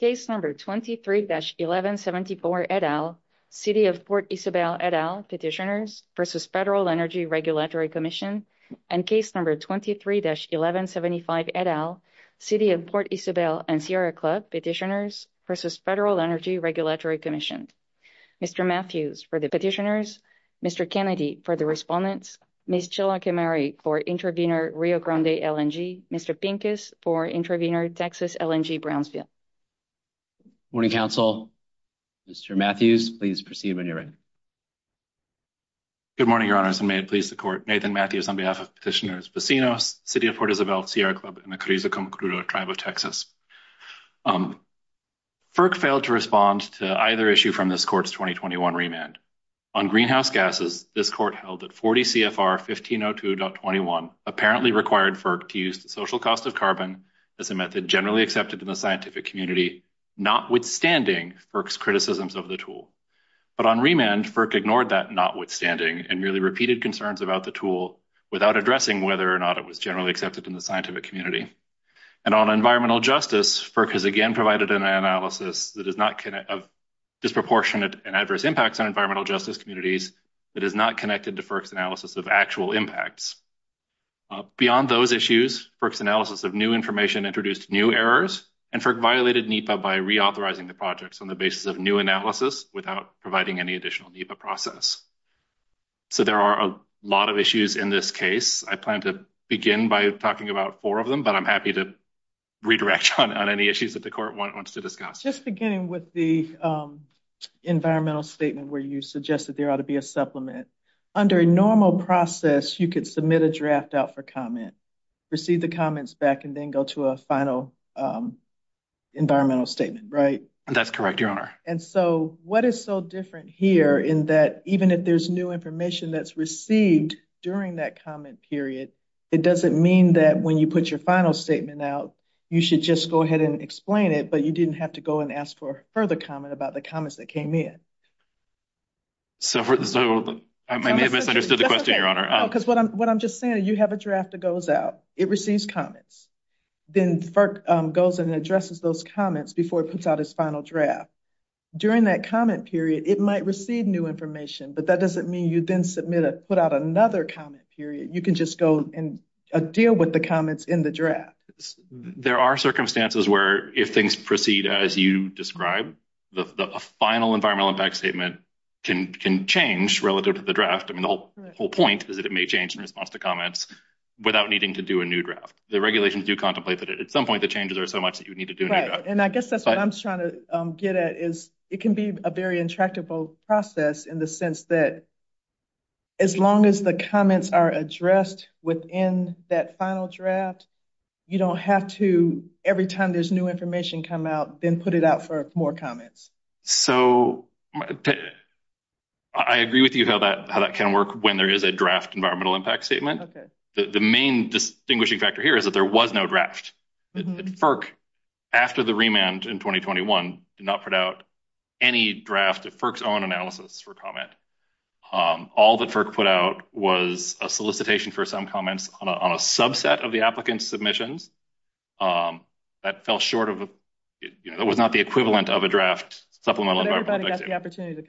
Case number 23-1174 et al. City of Port Isabel et al. Petitioners versus Federal Energy Regulatory Commission, and case number 23-1175 et al. City of Port Isabel and Sierra Club Petitioners versus Federal Energy Regulatory Commission. Mr. Matthews for the Petitioners, Mr. Kennedy for the Respondents, Ms. Chilakiamary for Intervenor Rio Grande LNG, Mr. Pincus for Intervenor Texas LNG Brownsville. Morning, Council. Mr. Matthews, please proceed when you're ready. Good morning, Your Honors, and may it please the Court. Nathan Matthews on behalf of Petitioners, Pacinos, City of Port Isabel, Sierra Club, and the Carrizo-Concludo Tribe of Texas. FERC failed to respond to either issue from this Court's 2021 remand. On greenhouse gases, this Court held that 40 CFR 1502.21 apparently required FERC to use the social cost of carbon as a method generally accepted in the scientific community, notwithstanding FERC's criticisms of the tool. But on remand, FERC ignored that notwithstanding and merely repeated concerns about the tool without addressing whether or not it was generally accepted in the scientific community. And on environmental justice, FERC has again provided an analysis of disproportionate and adverse impacts on environmental justice communities that is not connected to FERC's analysis of actual impacts. Beyond those issues, FERC's analysis of new information introduced new errors, and FERC violated NEPA by reauthorizing the projects on the basis of new analysis without providing any additional NEPA process. So there are a lot of issues in this case. I plan to begin by talking about four of them, but I'm happy to redirect on any issues that the Court wants to discuss. Just beginning with the environmental statement where you suggested there ought to be a supplement. Under a normal process, you could submit a draft out for comment, receive the comments back, and then go to a final environmental statement, right? That's correct, Your Honor. And so what is so different here in that even if there's new information that's received during that comment period, it doesn't mean that when you put your final statement out, you should just go ahead and explain it, but you didn't have to go and ask for further comment about the comments that came in. So I may have misunderstood the question, Your Honor. No, because what I'm just saying is you have a draft that goes out. It receives comments. Then FERC goes and addresses those comments before it puts out its final draft. During that comment period, it might receive new information, but that doesn't mean you then put out another comment period. You can just go and deal with the comments in the draft. There are circumstances where if things proceed as you described, the final environmental impact statement can change relative to the draft. The whole point is that it may change in response to comments without needing to do a new draft. The regulations do contemplate that at some point the changes are so much that you need to do a new draft. I guess that's what I'm trying to get at is it can be a very intractable process in the sense that as long as the comments are addressed within that final draft, you don't have to every time there's new information come out, then put it out for more comments. So I agree with you about how that can work when there is a draft environmental impact statement. The main distinguishing factor here is that there was no draft. FERC, after the remand in 2021, did not put out any draft of FERC's own analysis for comment. All that FERC put out was a solicitation for some comments on a subset of the applicant's submissions. That was not the equivalent of a draft supplemental environmental impact statement. Everybody got the opportunity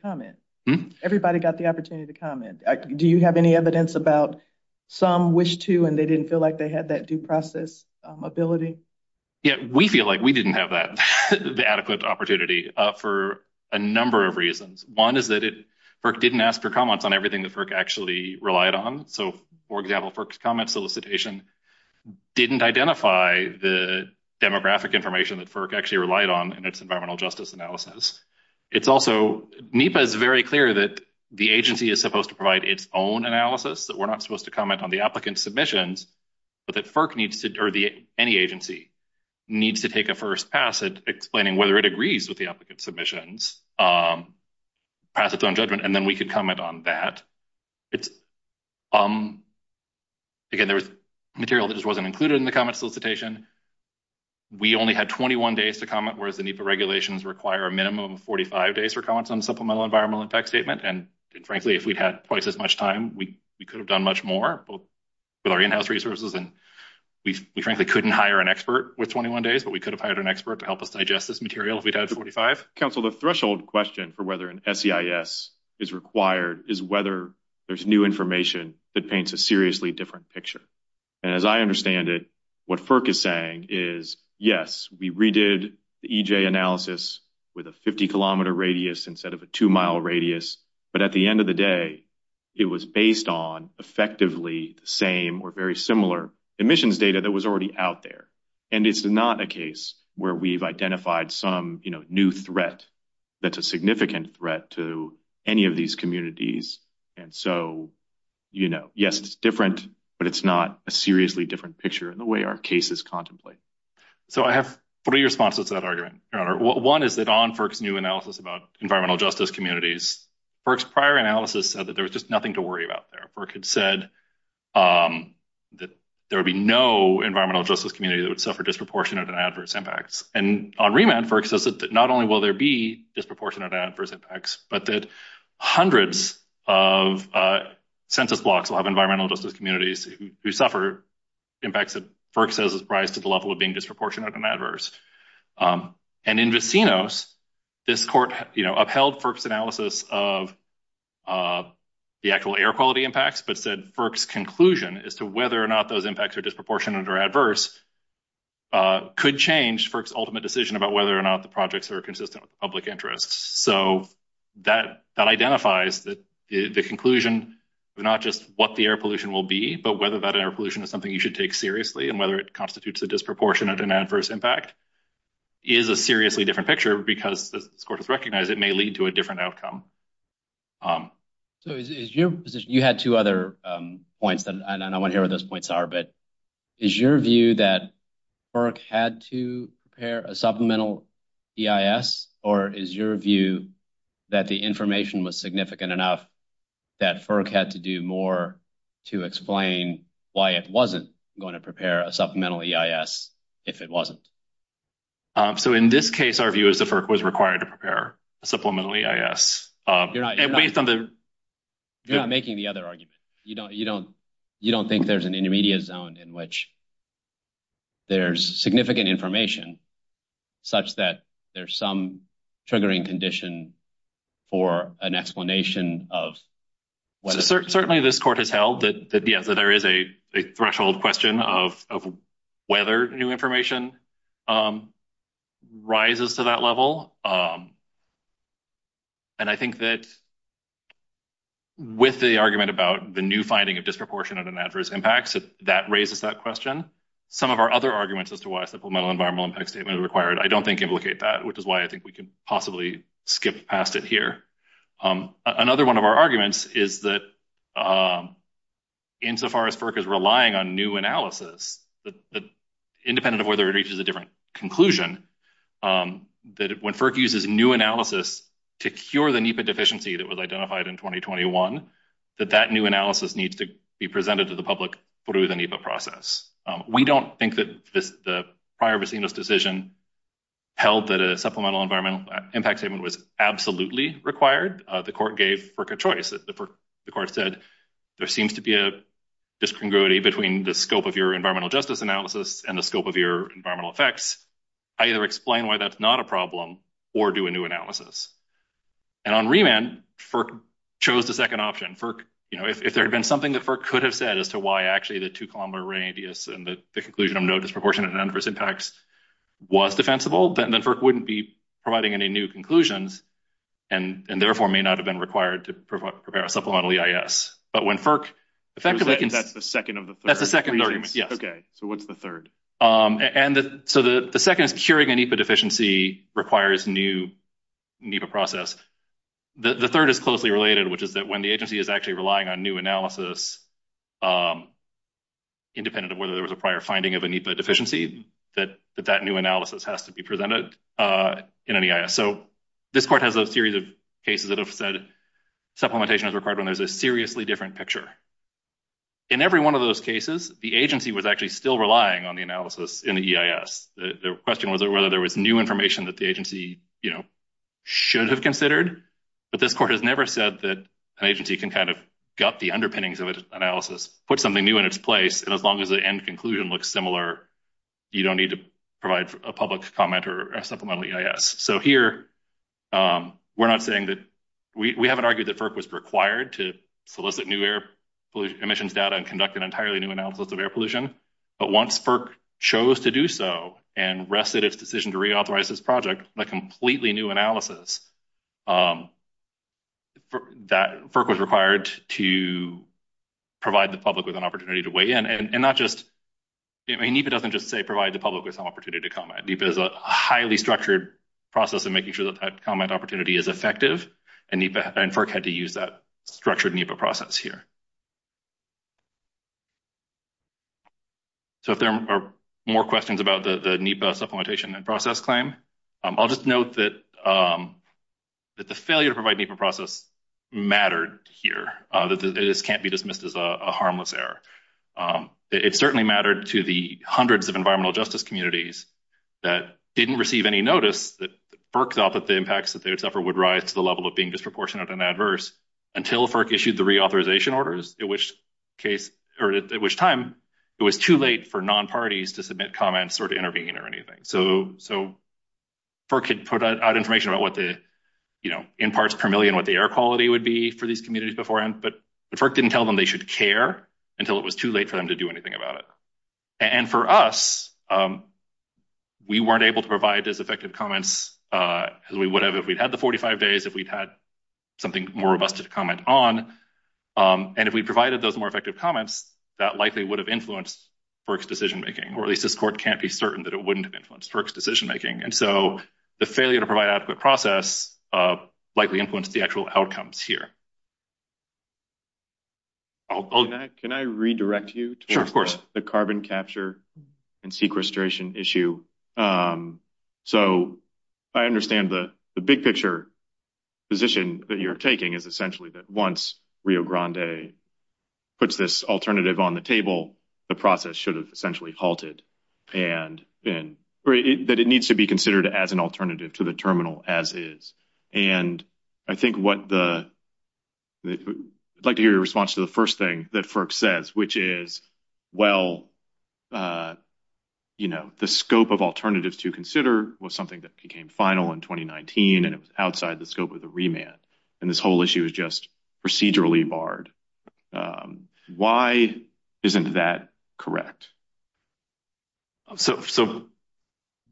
to comment. Do you have any evidence about some wish to and they didn't feel like they had that due process ability? Yeah, we feel like we didn't have that adequate opportunity for a number of reasons. One is that FERC didn't ask for comments on everything that FERC actually relied on. So, for example, FERC's comment solicitation didn't identify the demographic information that FERC actually relied on in its environmental justice analysis. It's also, NEPA is very clear that the agency is supposed to provide its own analysis, that we're not supposed to comment on the applicant's submissions, but that FERC needs to, or any agency, needs to take a first pass at explaining whether it agrees with the applicant's submissions, pass its own judgment, and then we can comment on that. Again, there was material that just wasn't included in the comment solicitation. We only had 21 days to comment, whereas the NEPA regulations require a minimum of 45 days for comments on a supplemental environmental impact statement, and frankly, if we had twice as much time, we could have done much more with our in-house resources, and we frankly couldn't hire an expert with 21 days, but we could have hired an expert to help us digest this material if we had 45. Council, the threshold question for whether an SEIS is required is whether there's new information that paints a seriously different picture. As I understand it, what FERC is saying is, yes, we redid the EJ analysis with a 50-kilometer radius instead of a 2-mile radius, but at the end of the day, it was based on effectively the same or very similar emissions data that was already out there, and it's not a case where we've identified some new threat that's a significant threat to any of these communities, and so, you know, yes, it's different, but it's not a seriously different picture in the way our cases contemplate. So I have three responses to that argument, Your Honor. One is that on FERC's new analysis about environmental justice communities, FERC's prior analysis said that there was just nothing to worry about there. FERC had said that there would be no environmental justice community that would suffer disproportionate and adverse impacts, and on remand, FERC says that not only will there be disproportionate and adverse impacts, but that hundreds of census blocks will have environmental justice communities who suffer impacts that FERC says rise to the level of being disproportionate and adverse, and in Vicinos, this court, you know, upheld FERC's analysis of the actual air quality impacts, but said FERC's conclusion as to whether or not those impacts are disproportionate or adverse could change FERC's ultimate decision about whether or not the projects are consistent with public interest. So that identifies the conclusion of not just what the air pollution will be, but whether that air pollution is something you should take seriously and whether it constitutes a disproportionate and adverse impact is a seriously different picture, because the court has recognized it may lead to a different outcome. So you had two other points, and I don't want to hear what those points are, but is your view that FERC had to prepare a supplemental EIS, or is your view that the information was significant enough that FERC had to do more to explain why it wasn't going to prepare a supplemental EIS if it wasn't? So in this case, our view is that FERC was required to prepare a supplemental EIS. You're not making the other argument. You don't think there's an intermediate zone in which there's significant information such that there's some triggering condition for an explanation of whether— rises to that level. And I think that with the argument about the new finding of disproportionate and adverse impacts, that raises that question. Some of our other arguments as to why a supplemental environmental impact statement is required, I don't think, implicate that, which is why I think we could possibly skip past it here. Another one of our arguments is that insofar as FERC is relying on new analysis, independent of whether it reaches a different conclusion, that when FERC uses new analysis to cure the NEPA deficiency that was identified in 2021, that that new analysis needs to be presented to the public through the NEPA process. We don't think that the prior Bacino's decision held that a supplemental environmental impact statement was absolutely required. The court gave FERC a choice. The court said there seems to be a discongruity between the scope of your environmental justice analysis and the scope of your environmental effects. Either explain why that's not a problem or do a new analysis. And on remand, FERC chose the second option. If there had been something that FERC could have said as to why actually the two-column array ideas and the conclusion of no disproportionate and adverse impacts was defensible, then FERC wouldn't be providing any new conclusions and therefore may not have been required to provide a supplemental EIS. But when FERC effectively— That's the second of the three? That's the second of the three, yes. Okay, so what's the third? And so the second is curing a NEPA deficiency requires new NEPA process. The third is closely related, which is that when the agency is actually relying on new analysis, independent of whether there was a prior finding of a NEPA deficiency, that that new analysis has to be presented in an EIS. So this part has a series of cases that have said supplementation is required when there's a seriously different picture. In every one of those cases, the agency was actually still relying on the analysis in the EIS. The question was whether there was new information that the agency, you know, should have considered. But this part has never said that an agency can kind of gut the underpinnings of its analysis, put something new in its place, and as long as the end conclusion looks similar, you don't need to provide a public comment or a supplemental EIS. So here, we're not saying that—we haven't argued that FERC was required to solicit new air pollution emissions data and conduct an entirely new analysis of air pollution. But once FERC chose to do so and rested its decision to reauthorize this project, a completely new analysis that FERC was required to provide the public with an opportunity to weigh in. And not just—NEPA doesn't just say provide the public with an opportunity to comment. NEPA is a highly structured process of making sure that that comment opportunity is effective, and FERC had to use that structured NEPA process here. So if there are more questions about the NEPA supplementation and process claim, I'll just note that the failure to provide NEPA process mattered here. This can't be dismissed as a harmless error. It certainly mattered to the hundreds of environmental justice communities that didn't receive any notice that FERC thought that the impacts that they would suffer would rise to the level of being disproportionate and adverse until FERC issued the reauthorization orders, at which time it was too late for non-parties to submit comments or to intervene or anything. So FERC could put out information about what the, you know, in parts per million, what the air quality would be for these communities beforehand, but FERC didn't tell them they should care until it was too late for them to do anything about it. And for us, we weren't able to provide those effective comments as we would have if we'd had the 45 days, if we'd had something more robust to comment on. And if we provided those more effective comments, that likely would have influenced FERC's decision-making, or at least this court can't be certain that it wouldn't have influenced FERC's decision-making. And so the failure to provide adequate process likely influenced the actual outcomes here. Can I redirect you to the carbon capture and sequestration issue? So I understand the big-picture position that you're taking is essentially that once Rio Grande puts this alternative on the table, the process should have essentially halted, and that it needs to be considered as an alternative to the terminal as is. And I think what the – I'd like to hear your response to the first thing that FERC says, which is, well, you know, the scope of alternatives to consider was something that became final in 2019, and it was outside the scope of the remand, and this whole issue is just procedurally barred. Why isn't that correct? So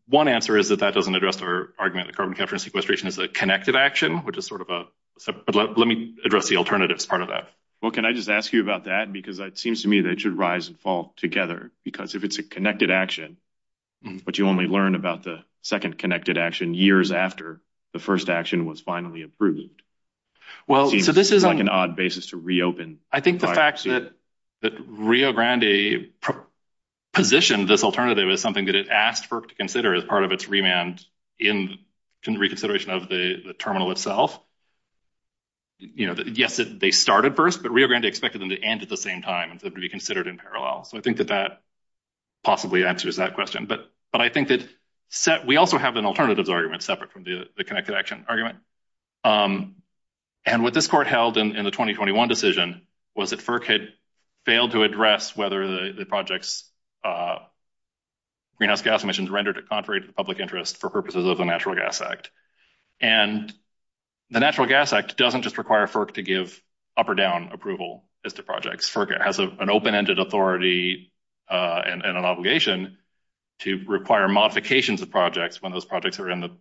one answer is that that doesn't address our argument that carbon capture and sequestration is a connective action, which is sort of a – let me address the alternatives part of that. Well, can I just ask you about that? Because it seems to me that it should rise and fall together, because if it's a connected action, but you only learn about the second connected action years after the first action was finally approved, it seems like an odd basis to reopen. I think the fact that Rio Grande positioned this alternative as something that it asked FERC to consider as part of its remand in reconsideration of the terminal itself – yes, they started first, but Rio Grande expected them to end at the same time and to be considered in parallel. So I think that that possibly answers that question. But I think that we also have an alternatives argument separate from the connected action argument. And what this court held in the 2021 decision was that FERC had failed to address whether the project's greenhouse gas emissions rendered it contrary to public interest for purposes of the Natural Gas Act. And the Natural Gas Act doesn't just require FERC to give up or down approval of the projects. FERC has an open-ended authority and an obligation to require modifications of projects when those projects are in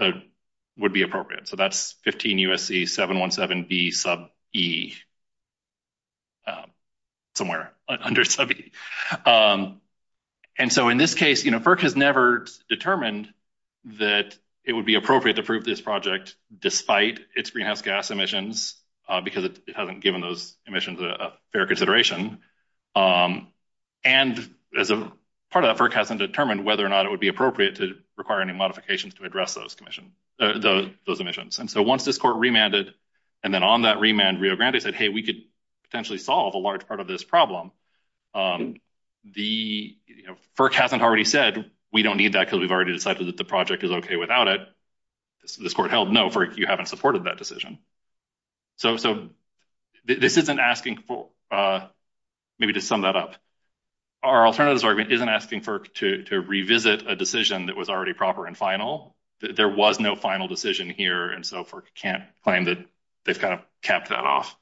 the – would be appropriate. So that's 15 U.S.C. 717B sub E, somewhere under sub E. And so in this case, you know, FERC has never determined that it would be appropriate to approve this project despite its greenhouse gas emissions because it hasn't given those emissions a fair consideration. And as a part of that, FERC hasn't determined whether or not it would be appropriate to require any modifications to address those emissions. And so once this court remanded and then on that remand, Rio Grande said, hey, we could potentially solve a large part of this problem. FERC hasn't already said, we don't need that because we've already decided that the project is okay without it. This court held, no, FERC, you haven't supported that decision. So this isn't asking – maybe to sum that up. Our alternatives argument isn't asking FERC to revisit a decision that was already proper and final. There was no final decision here, and so FERC can't claim that they've kind of capped that off.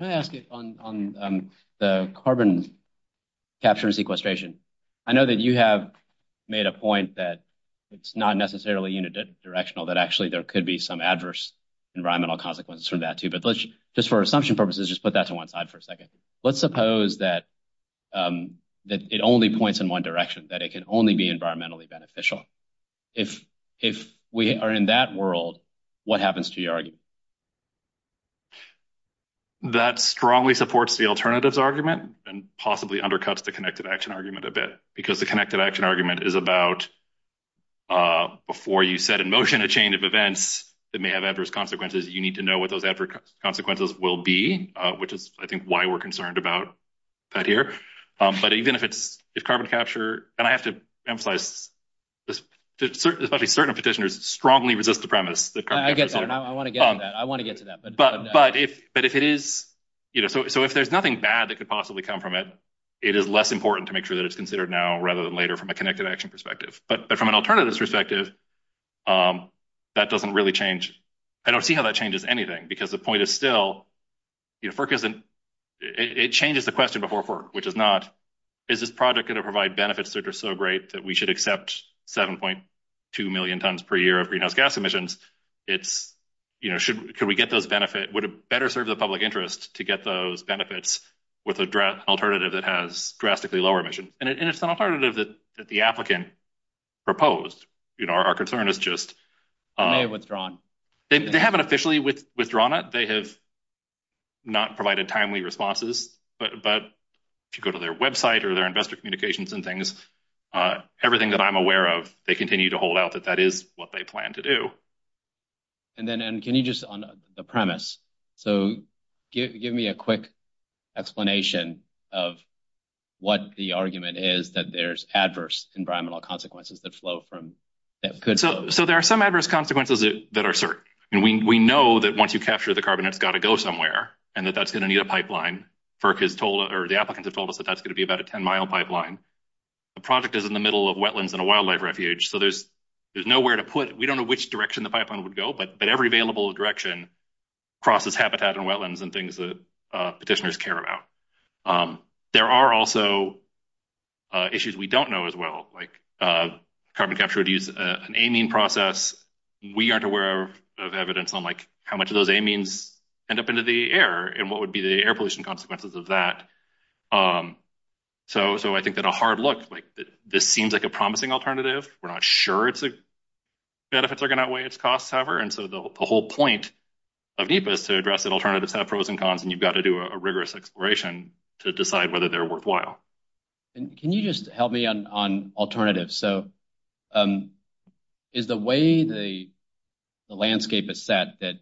Let me ask you on the carbon capture and sequestration. I know that you have made a point that it's not necessarily unidirectional, that actually there could be some adverse environmental consequences from that too. But just for assumption purposes, just put that to one side for a second. Let's suppose that it only points in one direction, that it can only be environmentally beneficial. If we are in that world, what happens to your argument? That strongly supports the alternatives argument and possibly undercuts the connected action argument a bit because the connected action argument is about before you set in motion a chain of events that may have adverse consequences, you need to know what those adverse consequences will be, which is, I think, why we're concerned about that here. But even if it's carbon capture, and I have to emphasize, especially certain petitioners strongly resist the premise that carbon capture… I get that. I want to get to that. I want to get to that. So if there's nothing bad that could possibly come from it, it is less important to make sure that it's considered now rather than later from a connected action perspective. But from an alternatives perspective, that doesn't really change. I don't see how that changes anything because the point is still, it changes the question before FERC, which is not, is this project going to provide benefits that are so great that we should accept 7.2 million tons per year of greenhouse gas emissions? Could we get those benefits? Would it better serve the public interest to get those benefits with an alternative that has drastically lower emissions? And it's an alternative that the applicant proposed. Our concern is just… They've withdrawn. They haven't officially withdrawn it. They have not provided timely responses. But if you go to their website or their investor communications and things, everything that I'm aware of, they continue to hold out that that is what they plan to do. And then can you just, on the premise, so give me a quick explanation of what the argument is that there's adverse environmental consequences that flow from… So there are some adverse consequences that are certain. And we know that once you capture the carbon, it's got to go somewhere and that that's going to need a pipeline. FERC has told, or the applicants have told us that that's going to be about a 10-mile pipeline. The project is in the middle of wetlands and a wildlife refuge. So there's nowhere to put, we don't know which direction the pipeline would go, but every available direction crosses habitat and wetlands and things that petitioners care about. There are also issues we don't know as well, like carbon capture would use an amine process. We aren't aware of evidence on, like, how much of those amines end up into the air and what would be the air pollution consequences of that. So I think that a hard look, like, this seems like a promising alternative. We're not sure its benefits are going to outweigh its costs, however. And so the whole point is to address that alternatives have pros and cons, and you've got to do a rigorous exploration to decide whether they're worthwhile. Can you just help me on alternatives? So is the way the landscape is set that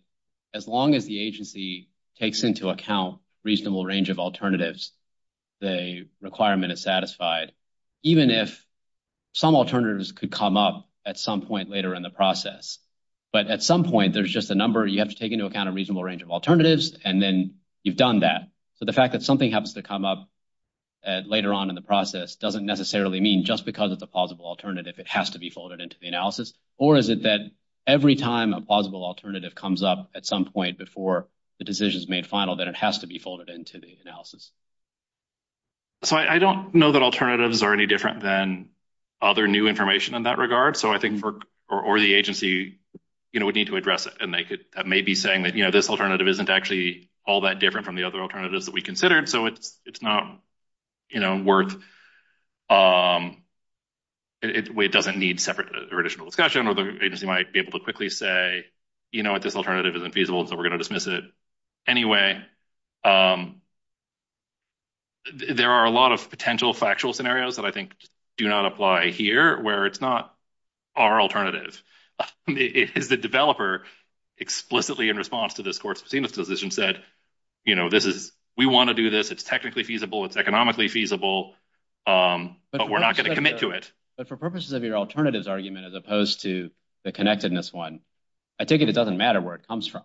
as long as the agency takes into account reasonable range of alternatives, the requirement is satisfied, even if some alternatives could come up at some point later in the process. But at some point, there's just a number you have to take into account a reasonable range of alternatives, and then you've done that. But the fact that something happens to come up later on in the process doesn't necessarily mean just because it's a plausible alternative it has to be folded into the analysis, or is it that every time a plausible alternative comes up at some point before the decision is made final, that it has to be folded into the analysis? So I don't know that alternatives are any different than other new information in that regard, or the agency would need to address it. And they may be saying that, you know, this alternative isn't actually all that different from the other alternatives that we considered, so it's not worth – it doesn't need separate or additional discussion, or the agency might be able to quickly say, you know what, this alternative isn't feasible, so we're going to dismiss it anyway. There are a lot of potential factual scenarios that I think do not apply here where it's not our alternative. The developer explicitly in response to this court's decision said, you know, this is – we want to do this. It's technically feasible. It's economically feasible, but we're not going to commit to it. But for purposes of your alternatives argument as opposed to the connectedness one, I take it it doesn't matter where it comes from.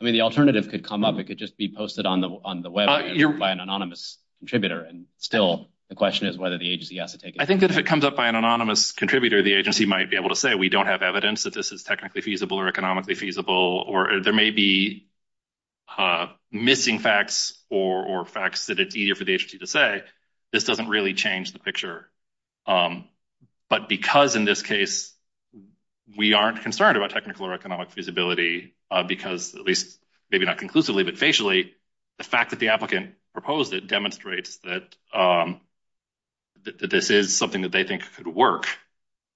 I mean, the alternative could come up. It could just be posted on the web by an anonymous contributor, and still the question is whether the agency has to take it. I think that if it comes up by an anonymous contributor, the agency might be able to say, we don't have evidence that this is technically feasible or economically feasible, or there may be missing facts or facts that it's easier for the agency to say. This doesn't really change the picture. But because in this case we aren't concerned about technical or economic feasibility, because at least maybe not conclusively but facially, the fact that the applicant proposed it demonstrates that this is something that they think could work.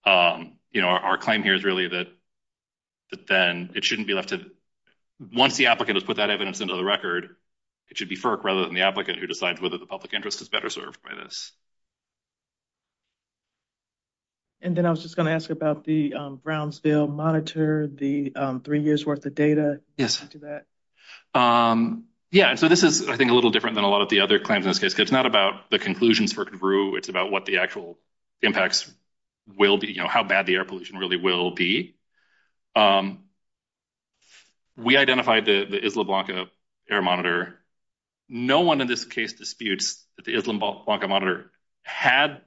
You know, our claim here is really that then it shouldn't be left to – once the applicant has put that evidence into the record, it should be FERC rather than the applicant who decides whether the public interest is better served by this. And then I was just going to ask about the Brownsville monitor, the three years' worth of data. Yes. Yeah, so this is, I think, a little different than a lot of the other claims in this case, because it's not about the conclusions for Kamburu. It's about what the actual impacts will be, you know, how bad the air pollution really will be. We identified the Isla Blanca air monitor. No one in this case disputes that the Isla Blanca monitor had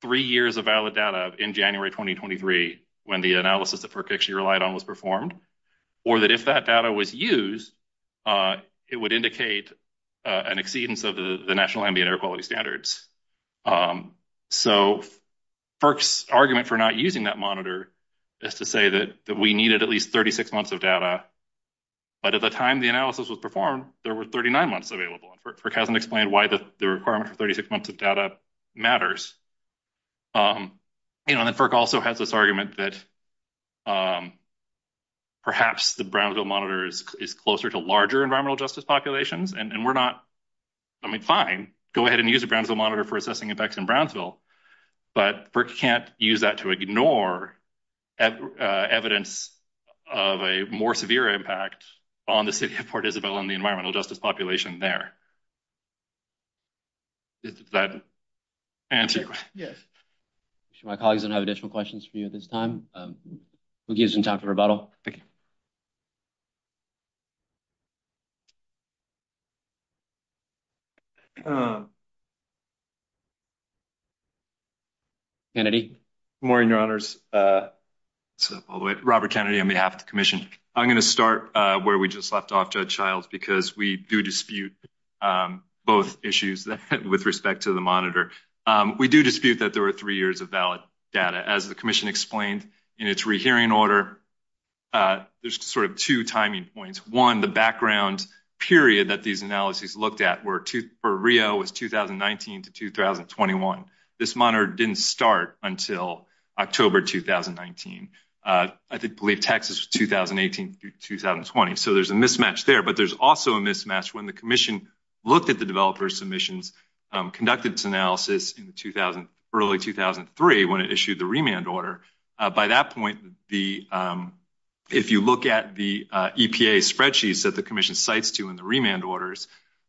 three years of valid data in January 2023 when the analysis that FERC actually relied on was performed, or that if that data was used, it would indicate an exceedance of the national ambient air quality standards. So FERC's argument for not using that monitor is to say that we needed at least 36 months of data. But at the time the analysis was performed, there were 39 months available, and FERC hasn't explained why the requirement for 36 months of data matters. You know, and FERC also has this argument that perhaps the Brownsville monitor is closer to larger environmental justice populations, and we're not, I mean, fine, go ahead and use the Brownsville monitor for assessing effects in Brownsville, but FERC can't use that to ignore evidence of a more severe impact on the city of Port Isabel and the environmental justice population there. Does that answer your question? Yes. My colleagues don't have additional questions for you at this time. We'll give some time for rebuttal. Kennedy? Good morning, Your Honors. Robert Kennedy on behalf of the Commission. I'm going to start where we just left off, Judge Childs, because we do dispute both issues with respect to the monitor. We do dispute that there were three years of valid data. As the Commission explained in its rehearing order, there's sort of two timing points. One, the background period that these analyses looked at for Rio was 2019 to 2021. This monitor didn't start until October 2019. I believe Texas was 2018 through 2020, so there's a mismatch there, but there's also a mismatch when the Commission looked at the developer submissions, conducted its analysis in early 2003 when it issued the remand order. By that point, if you look at the EPA spreadsheets that the Commission cites to in the remand orders,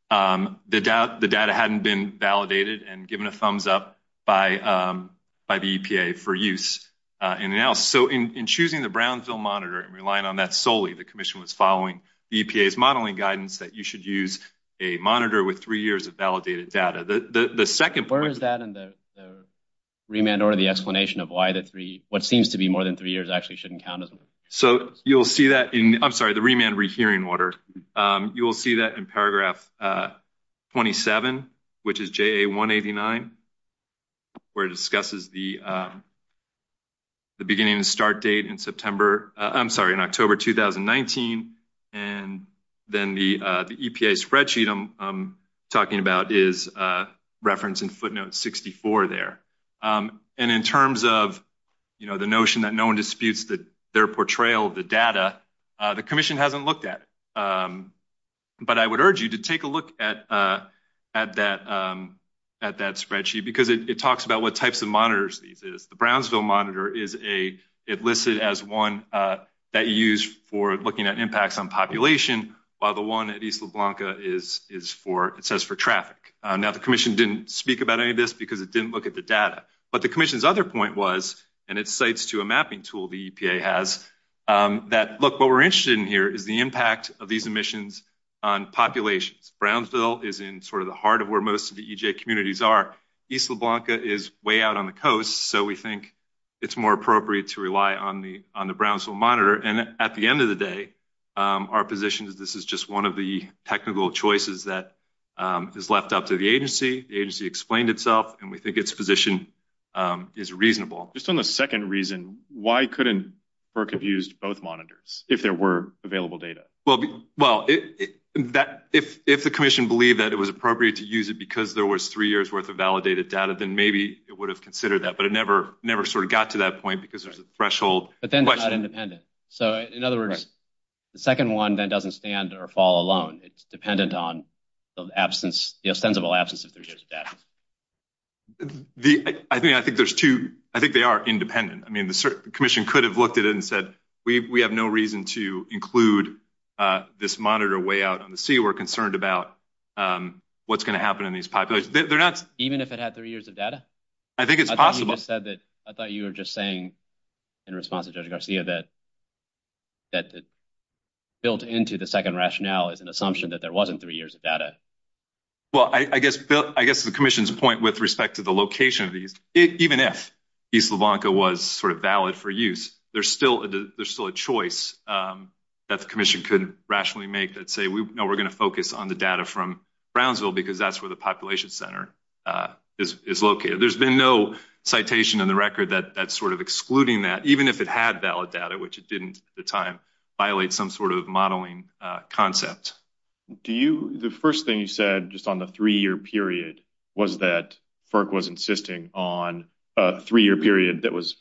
the data hadn't been validated and given a thumbs up by the EPA for use in analysis. So in choosing the Brownsville monitor and relying on that solely, the Commission was following the EPA's modeling guidance that you should use a monitor with three years of validated data. Where is that in the remand order, the explanation of why what seems to be more than three years actually shouldn't count as one? You'll see that in the remand rehearing order. You will see that in paragraph 27, which is JA 189, where it discusses the beginning of the start date in September. I'm sorry, in October 2019. And then the EPA spreadsheet I'm talking about is referenced in footnote 64 there. And in terms of the notion that no one disputes their portrayal of the data, the Commission hasn't looked at it. But I would urge you to take a look at that spreadsheet because it talks about what types of monitors these are. The Brownsville monitor is listed as one that you use for looking at impacts on population, while the one at East La Blanca says for traffic. Now, the Commission didn't speak about any of this because it didn't look at the data. But the Commission's other point was, and it cites to a mapping tool the EPA has, that, look, what we're interested in here is the impact of these emissions on populations. Brownsville is in sort of the heart of where most of the EJ communities are. East La Blanca is way out on the coast. So we think it's more appropriate to rely on the Brownsville monitor. And at the end of the day, our position is this is just one of the technical choices that is left up to the agency. The agency explained itself, and we think its position is reasonable. Just on the second reason, why couldn't FERC have used both monitors if there were available data? Well, if the Commission believed that it was appropriate to use it because there was three years' worth of validated data, then maybe it would have considered that. But it never sort of got to that point because there's a threshold. But then it's not independent. So, in other words, the second one then doesn't stand or fall alone. It's dependent on the ostensible absence of three years' data. I think they are independent. I mean, the Commission could have looked at it and said, we have no reason to include this monitor way out on the sea. We're concerned about what's going to happen in these populations. Even if it had three years of data? I think it's possible. I thought you were just saying, in response to Judge Garcia, that built into the second rationale is an assumption that there wasn't three years of data. Well, I guess the Commission's point with respect to the location of these, even if East Lavonka was sort of valid for use, there's still a choice that the Commission couldn't rationally make that say, no, we're going to focus on the data from Brownsville because that's where the population center is located. There's been no citation on the record that's sort of excluding that, even if it had valid data, which it didn't at the time, violate some sort of modeling concept. The first thing you said, just on the three-year period, was that FERC was insisting on a three-year period that was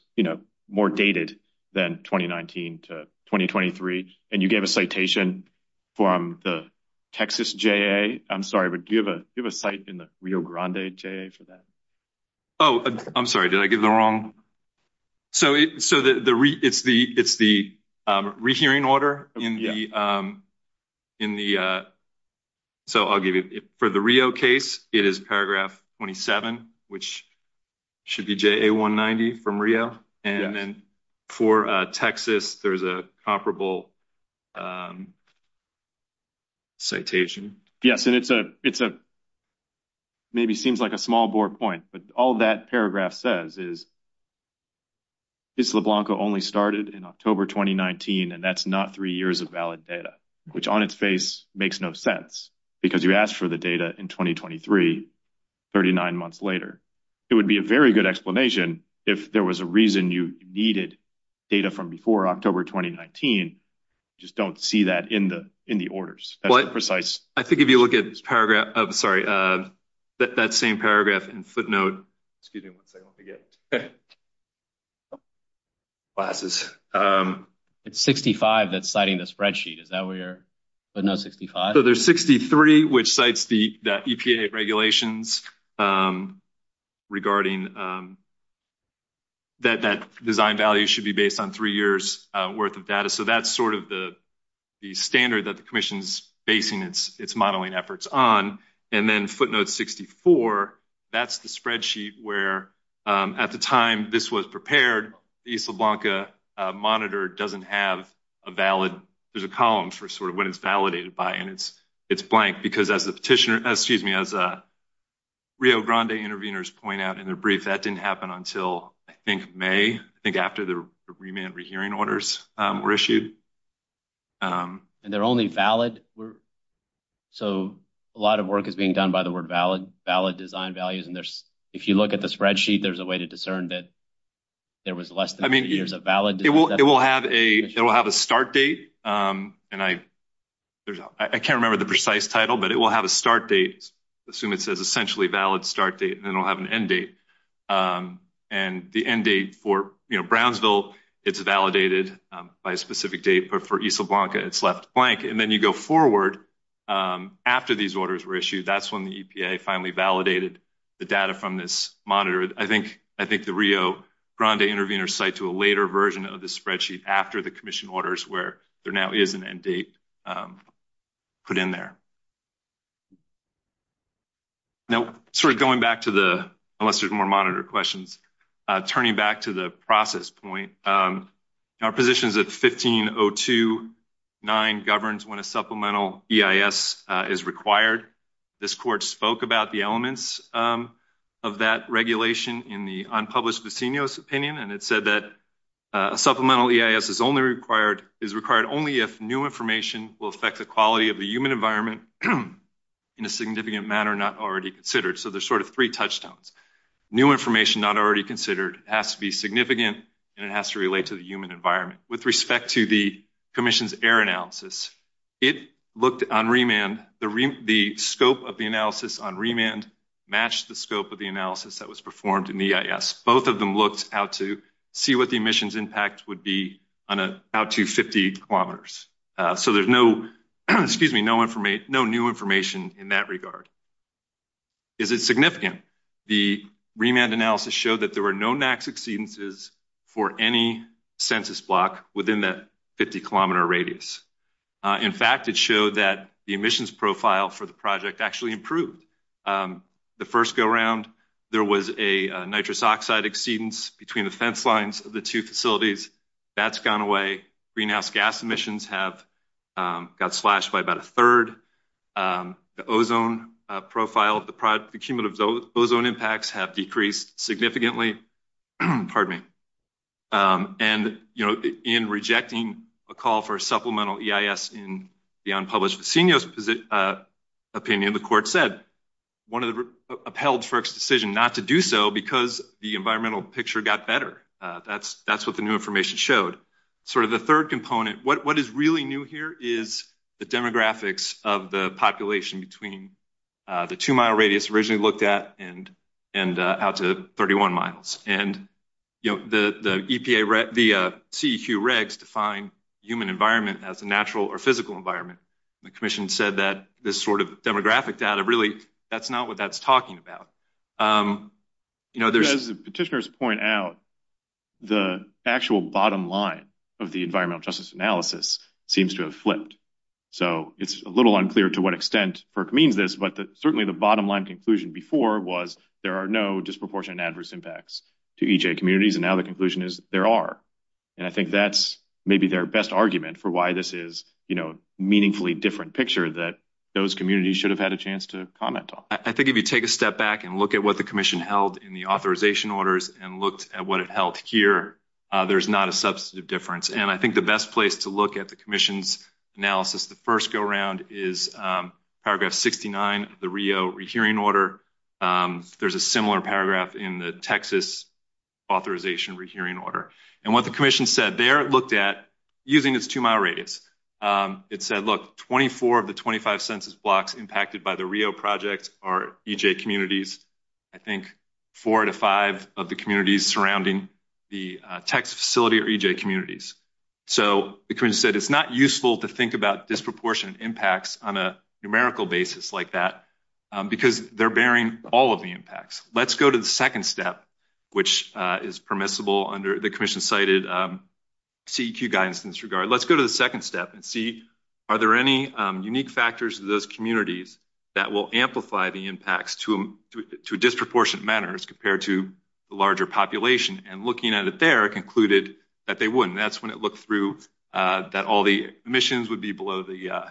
more dated than 2019 to 2023, and you gave a citation from the Texas JA. I'm sorry, but do you have a site in the Rio Grande JA for that? Oh, I'm sorry. Did I get that wrong? So it's the rehearing order in the – so I'll give you – for the Rio case, it is paragraph 27, which should be JA 190 from Rio, and then for Texas, there's a comparable citation. Yes, and it's a – maybe seems like a small bore point, but all that paragraph says is this LeBlanco only started in October 2019, and that's not three years of valid data, which on its face makes no sense because you asked for the data in 2023, 39 months later. It would be a very good explanation if there was a reason you needed data from before October 2019. I just don't see that in the orders. I have to give you a look at this paragraph – I'm sorry, that same paragraph in footnote. Excuse me, I'm going to say it again. It's 65 that's citing the spreadsheet. Is that where – footnote 65? So there's 63, which cites the EPA regulations regarding that that design value should be based on three years' worth of data. So that's sort of the standard that the commission's basing its modeling efforts on. And then footnote 64, that's the spreadsheet where at the time this was prepared, the East La Blanca monitor doesn't have a valid – there's a column for sort of what it's validated by, and it's blank because as the petitioner – excuse me, as Rio Grande interveners point out in their brief, that didn't happen until I think May, I think after the remand rehearing orders were issued. And they're only valid? So a lot of work is being done by the word valid, valid design values, and if you look at the spreadsheet, there's a way to discern that there was less than three years of valid. It will have a start date, and I can't remember the precise title, but it will have a start date. I assume it says essentially valid start date, and then it will have an end date. And the end date for Brownsville, it's validated by a specific date, but for East La Blanca, it's left blank. And then you go forward after these orders were issued. That's when the EPA finally validated the data from this monitor. I think the Rio Grande interveners cite to a later version of the spreadsheet after the commission orders where there now is an end date put in there. Now sort of going back to the – unless there's more monitor questions, turning back to the process point, our position is that 15029 governs when a supplemental EIS is required. This court spoke about the elements of that regulation in the unpublished decenios opinion, and it said that supplemental EIS is required only if new information will affect the quality of the human environment in a significant manner not already considered. So there's sort of three touchstones. New information not already considered has to be significant, and it has to relate to the human environment. With respect to the commission's error analysis, it looked on remand. The scope of the analysis on remand matched the scope of the analysis that was performed in EIS. Both of them looked out to see what the emissions impact would be on a – out to 50 kilometers. So there's no – excuse me – no new information in that regard. Is it significant? The remand analysis showed that there were no NAICS exceedances for any census block within that 50-kilometer radius. In fact, it showed that the emissions profile for the project actually improved. The first go-round, there was a nitrous oxide exceedance between the fence lines of the two facilities. That's gone away. Greenhouse gas emissions have got slashed by about a third. The ozone profile, the cumulative ozone impacts have decreased significantly. Pardon me. And, you know, in rejecting a call for a supplemental EIS in the unpublished senior's opinion, the court said one of the – upheld FERC's decision not to do so because the environmental picture got better. That's what the new information showed. Sort of the third component, what is really new here is the demographics of the population between the two-mile radius originally looked at and out to 31 miles. And, you know, the EPA – the CEQ regs define human environment as a natural or physical environment. The commission said that this sort of demographic data really – that's not what that's talking about. You know, there's – As the petitioners point out, the actual bottom line of the environmental justice analysis seems to have flipped. So it's a little unclear to what extent FERC means this, but certainly the bottom line conclusion before was there are no disproportionate adverse impacts to EJ communities, and now the conclusion is there are. And I think that's maybe their best argument for why this is, you know, a meaningfully different picture that those communities should have had a chance to comment on. I think if you take a step back and look at what the commission held in the authorization orders and looked at what it held here, there's not a substantive difference. And I think the best place to look at the commission's analysis, the first go-around is paragraph 69 of the Rio rehearing order. There's a similar paragraph in the Texas authorization rehearing order. And what the commission said there it looked at using its two moderators. It said, look, 24 of the 25 census blocks impacted by the Rio project are EJ communities. I think four out of five of the communities surrounding the Texas facility are EJ communities. So the commission said it's not useful to think about disproportionate impacts on a numerical basis like that because they're bearing all of the impacts. Let's go to the second step, which is permissible under the commission cited CEQ guidance in this regard. Let's go to the second step and see are there any unique factors in those communities that will amplify the impacts to a disproportionate manner as compared to the larger population. And looking at it there, it concluded that they wouldn't. That's when it looked through that all the emissions would be below the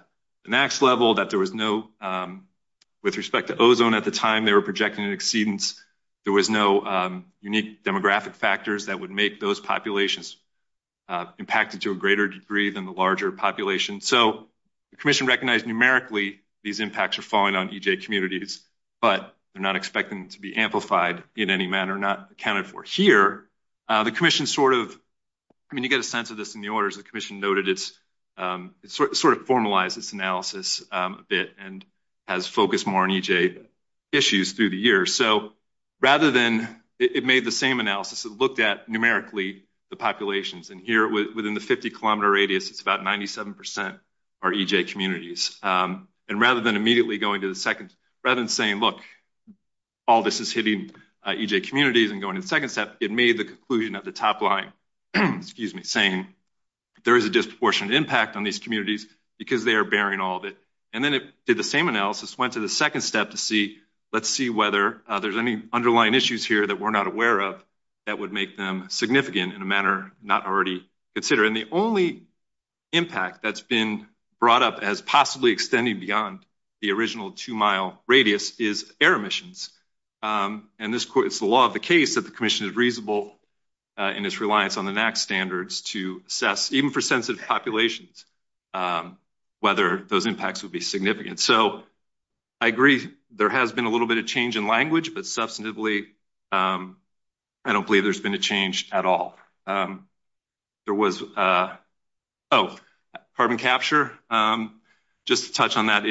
max level, that there was no, with respect to ozone at the time, they were projecting an exceedance. There was no unique demographic factors that would make those populations impacted to a greater degree than the larger population. So the commission recognized numerically these impacts are falling on EJ communities, but they're not expecting to be amplified in any manner, not accounted for. Here, the commission sort of, I mean, you get a sense of this in the orders, the commission noted it's sort of formalized its analysis a bit and has focused more on EJ issues through the years. So rather than, it made the same analysis, it looked at numerically the populations. And here within the 50 kilometer radius, it's about 97% are EJ communities. And rather than immediately going to the second, rather than saying, look, all this is hitting EJ communities and going to the second step, it made the conclusion at the top line, excuse me, saying there is a disproportionate impact on these communities because they are bearing all of it. And then it did the same analysis, went to the second step to see, let's see whether there's any underlying issues here that we're not aware of that would make them significant in a manner not already considered. And the only impact that's been brought up as possibly extending beyond the original two mile radius is air emissions. And it's the law of the case that the commission is reasonable in its reliance on the NAC standards to assess, even for sensitive populations, whether those impacts would be significant. So I agree there has been a little bit of change in language, but substantively, I don't believe there's been a change at all. There was, oh, carbon capture. Just to touch on that,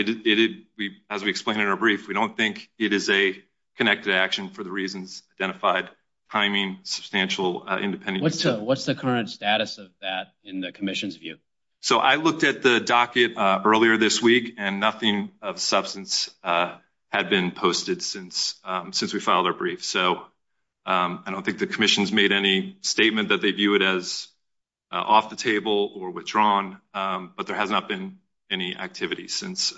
as we explained in our brief, we don't think it is a connected action for the reasons identified, priming substantial independent. What's the current status of that in the commission's view? So I looked at the docket earlier this week and nothing of substance had been posted since we filed our brief. So I don't think the commission's made any statement that they view it as off the table or withdrawn. But there has not been any activity since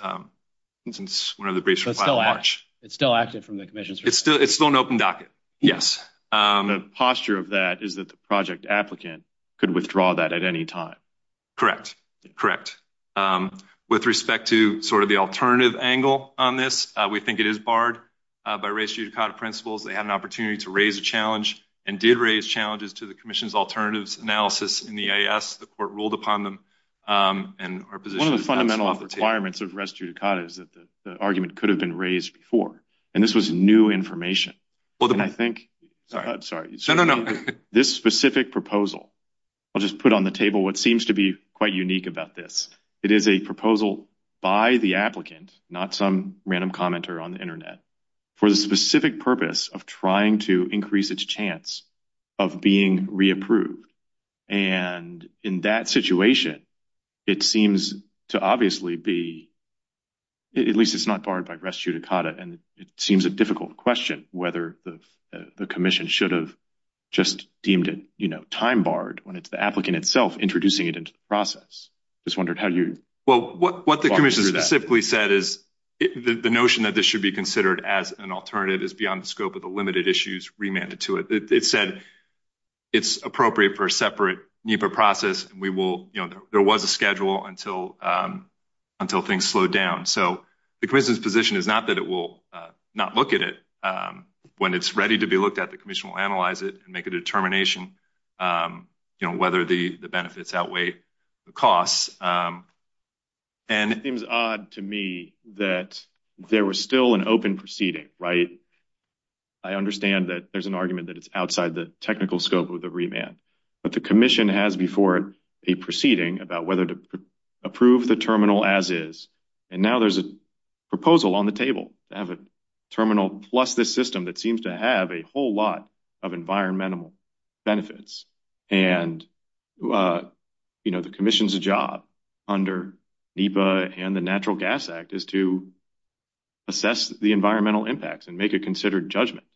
since one of the briefs. So it's still active from the commission. It's still an open docket. Yes. The posture of that is that the project applicant could withdraw that at any time. Correct. Correct. With respect to sort of the alternative angle on this, we think it is barred by ratio of principles. They had an opportunity to raise a challenge and did raise challenges to the commission's alternatives analysis in the I.S. The court ruled upon them and our position on the fundamental requirements of rescue to cut is that the argument could have been raised before. And this was new information. Well, then I think I'm sorry. No, no, no. This specific proposal. I'll just put on the table what seems to be quite unique about this. It is a proposal by the applicant, not some random commenter on the Internet for the specific purpose. Of trying to increase its chance of being reapproved. And in that situation, it seems to obviously be. At least it's not part of a rescue to cut it. And it seems a difficult question. Whether the commission should have just deemed it time barred when it's the applicant itself introducing it into the process. Well, what the commission specifically said is the notion that this should be considered as an alternative is beyond the scope of the limited issues remanded to it. It said it's appropriate for a separate process. We will. There was a schedule until until things slowed down. So the commission's position is not that it will not look at it when it's ready to be looked at. The commission will analyze it and make a determination whether the benefits outweigh the costs. And it was odd to me that there was still an open proceeding. Right. I understand that there's an argument that it's outside the technical scope of the remand. But the commission has before a proceeding about whether to approve the terminal as is. And now there's a proposal on the table to have a terminal plus this system that seems to have a whole lot of environmental benefits. And, you know, the commission's job under NEPA and the Natural Gas Act is to assess the environmental impacts and make it considered judgment.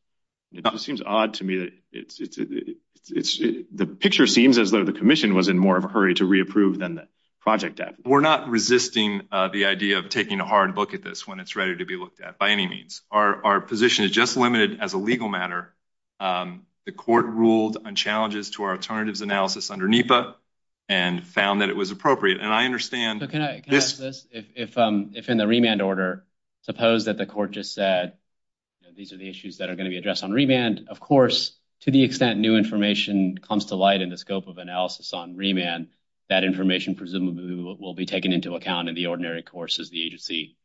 It seems odd to me that it's the picture seems as though the commission was in more of a hurry to reapprove than the project. We're not resisting the idea of taking a hard look at this when it's ready to be looked at by any means. Our position is just limited as a legal matter. The court ruled on challenges to our alternatives analysis under NEPA and found that it was appropriate. And I understand that if I'm in the remand order, suppose that the court just said these are the issues that are going to be addressed on remand. Of course, to the extent new information comes to light in the scope of analysis on remand, that information presumably will be taken into account in the ordinary course as the agency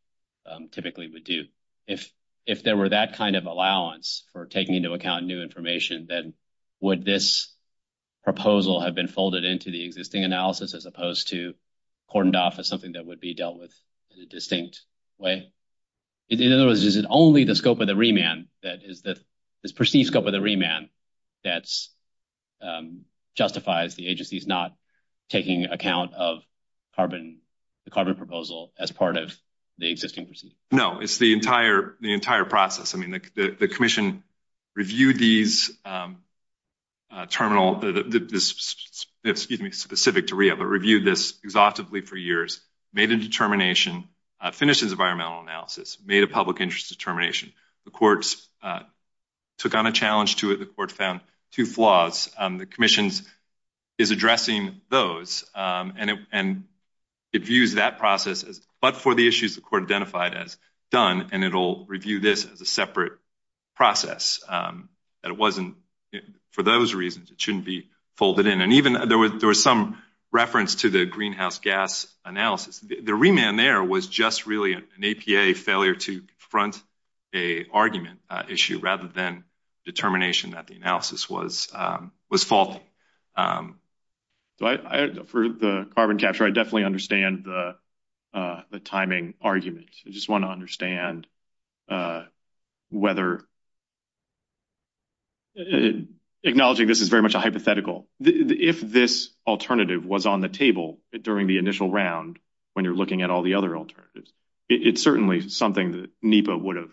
typically would do. If there were that kind of allowance for taking into account new information, then would this proposal have been folded into the existing analysis as opposed to cordoned off as something that would be dealt with in a distinct way? In other words, is it only the scope of the remand, the perceived scope of the remand, that justifies the agency's not taking account of the carbon proposal as part of the existing procedure? No, it's the entire process. I mean, the commission reviewed these terminal – excuse me, specific to REIA, but reviewed this exhaustively for years, made a determination, finished its environmental analysis, made a public interest determination. The courts took on a challenge to it. The court found two flaws. The commission is addressing those, and it views that process but for the issues the court identified as done, and it will review this as a separate process. It wasn't for those reasons. It shouldn't be folded in. There was some reference to the greenhouse gas analysis. The remand there was just really an APA failure to confront an argument issue rather than determination that the analysis was faulty. For the carbon capture, I definitely understand the timing argument. I just want to understand whether – acknowledging this is very much a hypothetical, if this alternative was on the table during the initial round when you're looking at all the other alternatives, it's certainly something that NEPA would have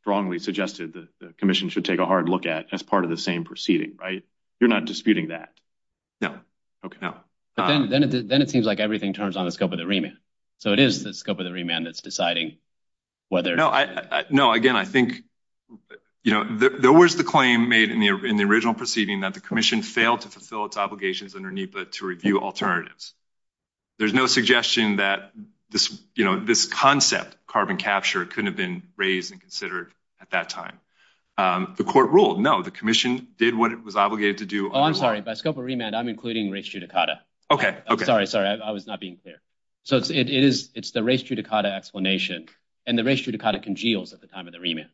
strongly suggested the commission should take a hard look at as part of the same proceeding, right? You're not disputing that? No. Then it seems like everything turns on the scope of the remand. So it is the scope of the remand that's deciding whether – No. Again, I think there was the claim made in the original proceeding that the commission failed to fulfill its obligations under NEPA to review alternatives. There's no suggestion that this concept, carbon capture, couldn't have been raised and considered at that time. The court ruled no. The commission did what it was obligated to do – Oh, I'm sorry. By scope of remand, I'm including race judicata. Okay, okay. Sorry, sorry. I was not being clear. So it's the race judicata explanation, and the race judicata congeals at the time of the remand.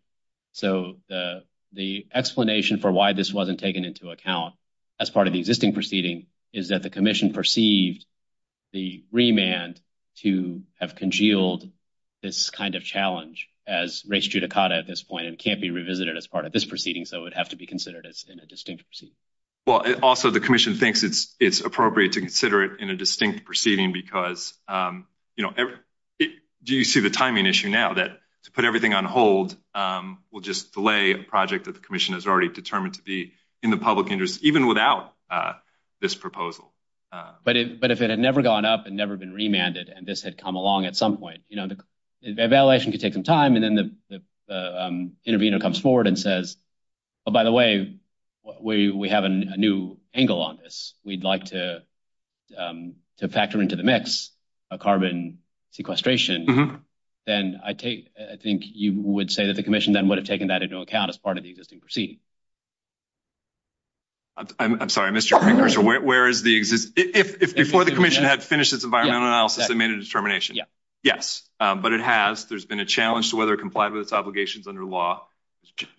So the explanation for why this wasn't taken into account as part of the existing proceeding is that the commission perceived the remand to have congealed this kind of challenge as race judicata at this point and can't be revisited as part of this proceeding, so it would have to be considered in a distinct proceeding. Well, also the commission thinks it's appropriate to consider it in a distinct proceeding because, you know, do you see the timing issue now that to put everything on hold will just delay a project that the commission is already determined to be in the public interest, even without this proposal? But if it had never gone up and never been remanded and this had come along at some point, you know, the evaluation could take some time, and then the intervener comes forward and says, oh, by the way, we have a new angle on this. We'd like to factor into the mix a carbon sequestration, then I think you would say that the commission then would have taken that into account as part of the existing proceeding. I'm sorry, Mr. McPherson, where is the existing? If before the commission had finished this environmental analysis and made a determination. Yes. But it has. There's been a challenge to whether it complied with its obligations under law.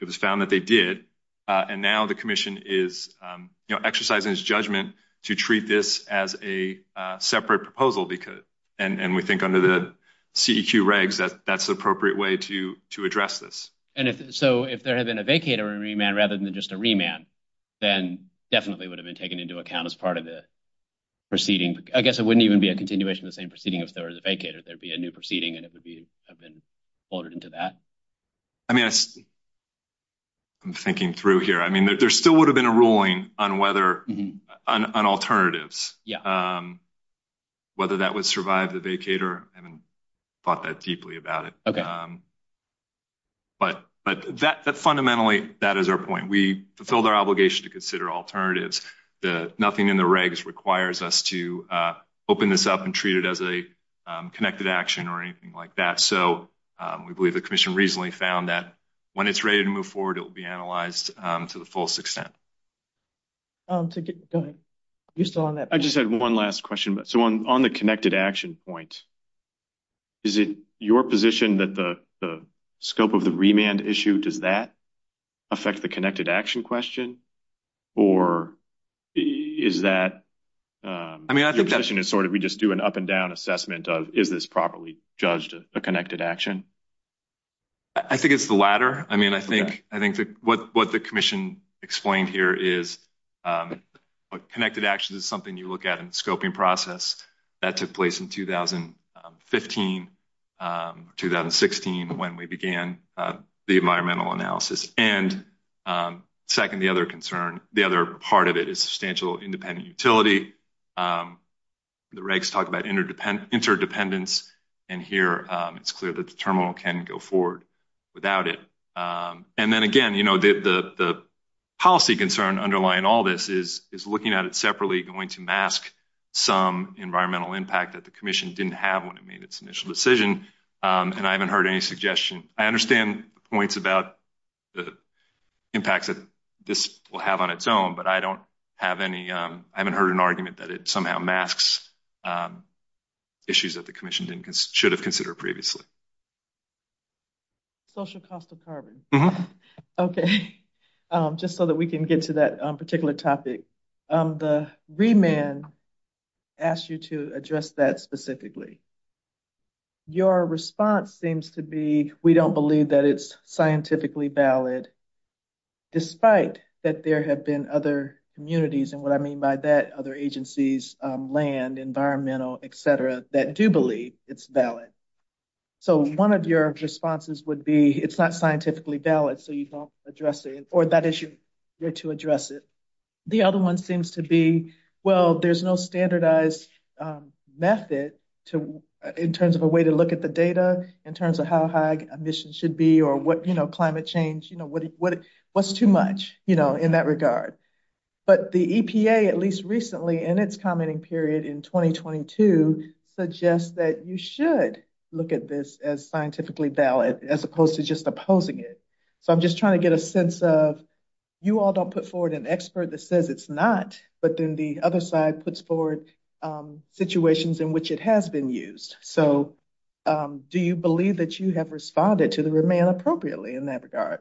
It was found that they did. And now the commission is exercising its judgment to treat this as a separate proposal, and we think under the CEQ regs that that's the appropriate way to address this. And so if there had been a vacate or a remand rather than just a remand, then definitely would have been taken into account as part of the proceeding. I guess it wouldn't even be a continuation of the same proceeding if there was a vacate. There would be a new proceeding, and it would have been folded into that. I mean, I'm thinking through here. I mean, there still would have been a ruling on whether an alternative, whether that would survive the vacater. I haven't thought that deeply about it. But fundamentally, that is our point. We fulfilled our obligation to consider alternatives. Nothing in the regs requires us to open this up and treat it as a connected action or anything like that. So we believe the commission reasonably found that when it's ready to move forward, it will be analyzed to the fullest extent. I just have one last question. So on the connected action point, is it your position that the scope of the remand issue, does that affect the connected action question? Or is that – I mean, I think that's sort of – we just do an up and down assessment of is this properly judged a connected action? I think it's the latter. I mean, I think what the commission explained here is connected action is something you look at in the scoping process. That took place in 2015, 2016, when we began the environmental analysis. And second, the other concern, the other part of it is substantial independent utility. The regs talk about interdependence, and here it's clear that the terminal can go forward without it. And then again, the policy concern underlying all this is looking at it separately going to mask some environmental impact that the commission didn't have when it made its initial decision. And I haven't heard any suggestion. I understand points about the impact that this will have on its own, but I don't have any – I haven't heard an argument that it somehow masks issues that the commission should have considered previously. Social cost of carbon. Okay. Just so that we can get to that particular topic. The remand asked you to address that specifically. Your response seems to be, we don't believe that it's scientifically valid, despite that there have been other communities, and what I mean by that, other agencies, land, environmental, et cetera, that do believe it's valid. So one of your responses would be, it's not scientifically valid, so you don't address it, or that issue, you're to address it. The other one seems to be, well, there's no standardized method in terms of a way to look at the data, in terms of how high emissions should be or what climate change, what's too much in that regard. But the EPA, at least recently, in its commenting period in 2022, suggests that you should look at this as scientifically valid, as opposed to just opposing it. So I'm just trying to get a sense of, you all don't put forward an expert that says it's not, but then the other side puts forward situations in which it has been used. So do you believe that you have responded to the remand appropriately in that regard?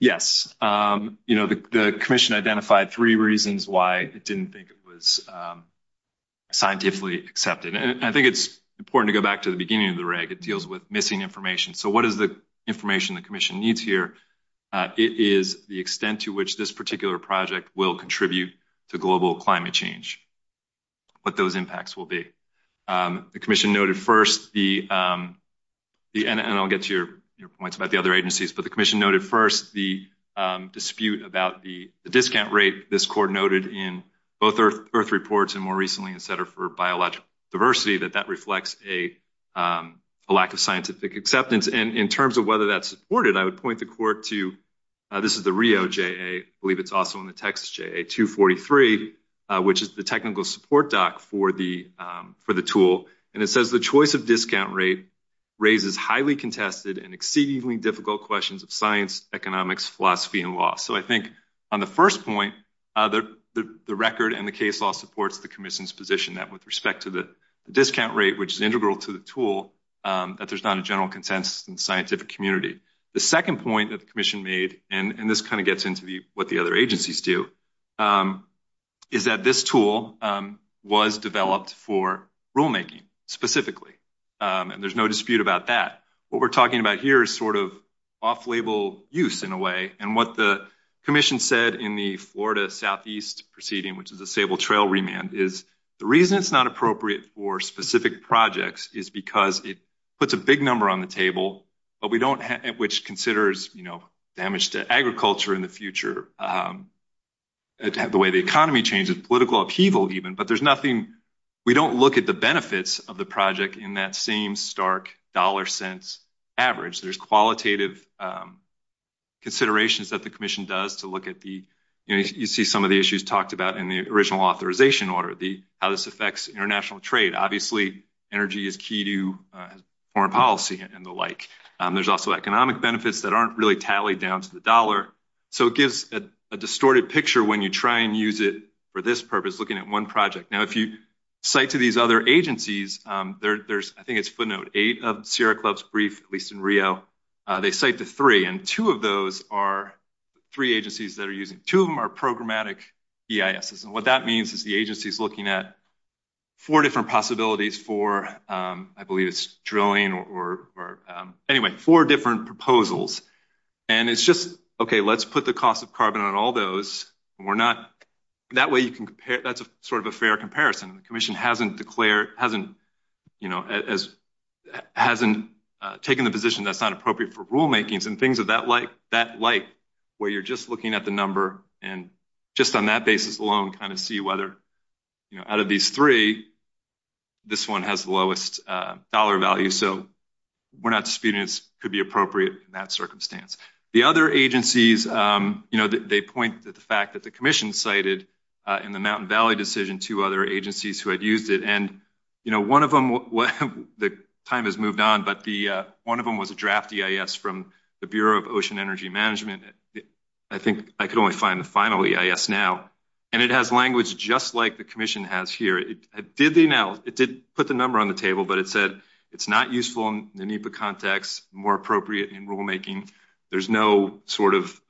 Yes. The commission identified three reasons why it didn't think it was scientifically accepted. I think it's important to go back to the beginning of the reg, it deals with missing information. So what is the information the commission needs here? It is the extent to which this particular project will contribute to global climate change, what those impacts will be. The commission noted first the, and I'll get to your points about the other agencies, but the commission noted first the dispute about the discount rate. This court noted in both earth reports and more recently, et cetera, for biological diversity, that that reflects a lack of scientific acceptance. And in terms of whether that's supported, I would point the court to, this is the Rio JA, I believe it's also in the Texas JA 243, which is the technical support doc for the tool. And it says the choice of discount rate raises highly contested and exceedingly difficult questions of science, economics, philosophy, and law. So I think on the first point, the record and the case law supports the commission's position that with respect to the discount rate, which is integral to the tool, that there's not a general consensus in the scientific community. The second point that the commission made, and this kind of gets into what the other agencies do, is that this tool was developed for rulemaking specifically. And there's no dispute about that. What we're talking about here is sort of off-label use in a way. And what the commission said in the Florida Southeast proceeding, which is a stable trail remand, is the reason it's not appropriate for specific projects is because it puts a big number on the table, but we don't have, which considers, you know, damage to agriculture in the future. The way the economy changes, political upheaval even, but there's nothing, we don't look at the benefits of the project in that same stark dollar cents average. There's qualitative considerations that the commission does to look at the, you know, you see some of the issues talked about in the original authorization order, how this affects international trade. Obviously, energy is key to foreign policy and the like. There's also economic benefits that aren't really tallied down to the dollar. So, it gives a distorted picture when you try and use it for this purpose, looking at one project. Now, if you cite to these other agencies, there's, I think it's footnote eight of Sierra Club's brief, at least in Rio. They cite the three, and two of those are three agencies that are using, two of them are programmatic EISs. And what that means is the agency's looking at four different possibilities for, I believe it's drilling or, anyway, four different proposals. And it's just, okay, let's put the cost of carbon on all those, and we're not, that way you can compare, that's sort of a fair comparison. The commission hasn't declared, hasn't, you know, hasn't taken the position that's not appropriate for rulemaking and things of that like, where you're just looking at the number and just on that basis alone kind of see whether, you know, out of these three, this one has the lowest dollar value. So, we're not disputing it could be appropriate in that circumstance. The other agencies, you know, they point to the fact that the commission cited in the Mountain Valley decision two other agencies who had used it. And, you know, one of them, the time has moved on, but the, one of them was a draft EIS from the Bureau of Ocean Energy Management. I think I could only find the final EIS now. And it has language just like the commission has here. It did put the number on the table, but it said it's not useful in the NEPA context, more appropriate in rulemaking. There's no sort of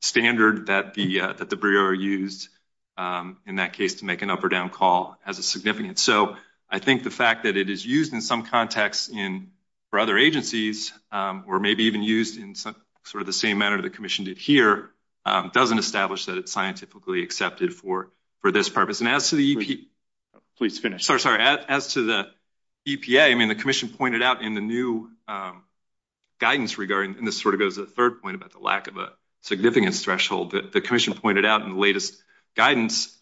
standard that the Bureau used in that case to make an up or down call as a significant. So, I think the fact that it is used in some context in, for other agencies, or maybe even used in sort of the same manner the commission did here, doesn't establish that it's scientifically accepted for this purpose. Please finish. Sorry, sorry. As to the EPA, I mean, the commission pointed out in the new guidance regarding, and this sort of goes to the third point about the lack of a significant threshold that the commission pointed out in the latest guidance,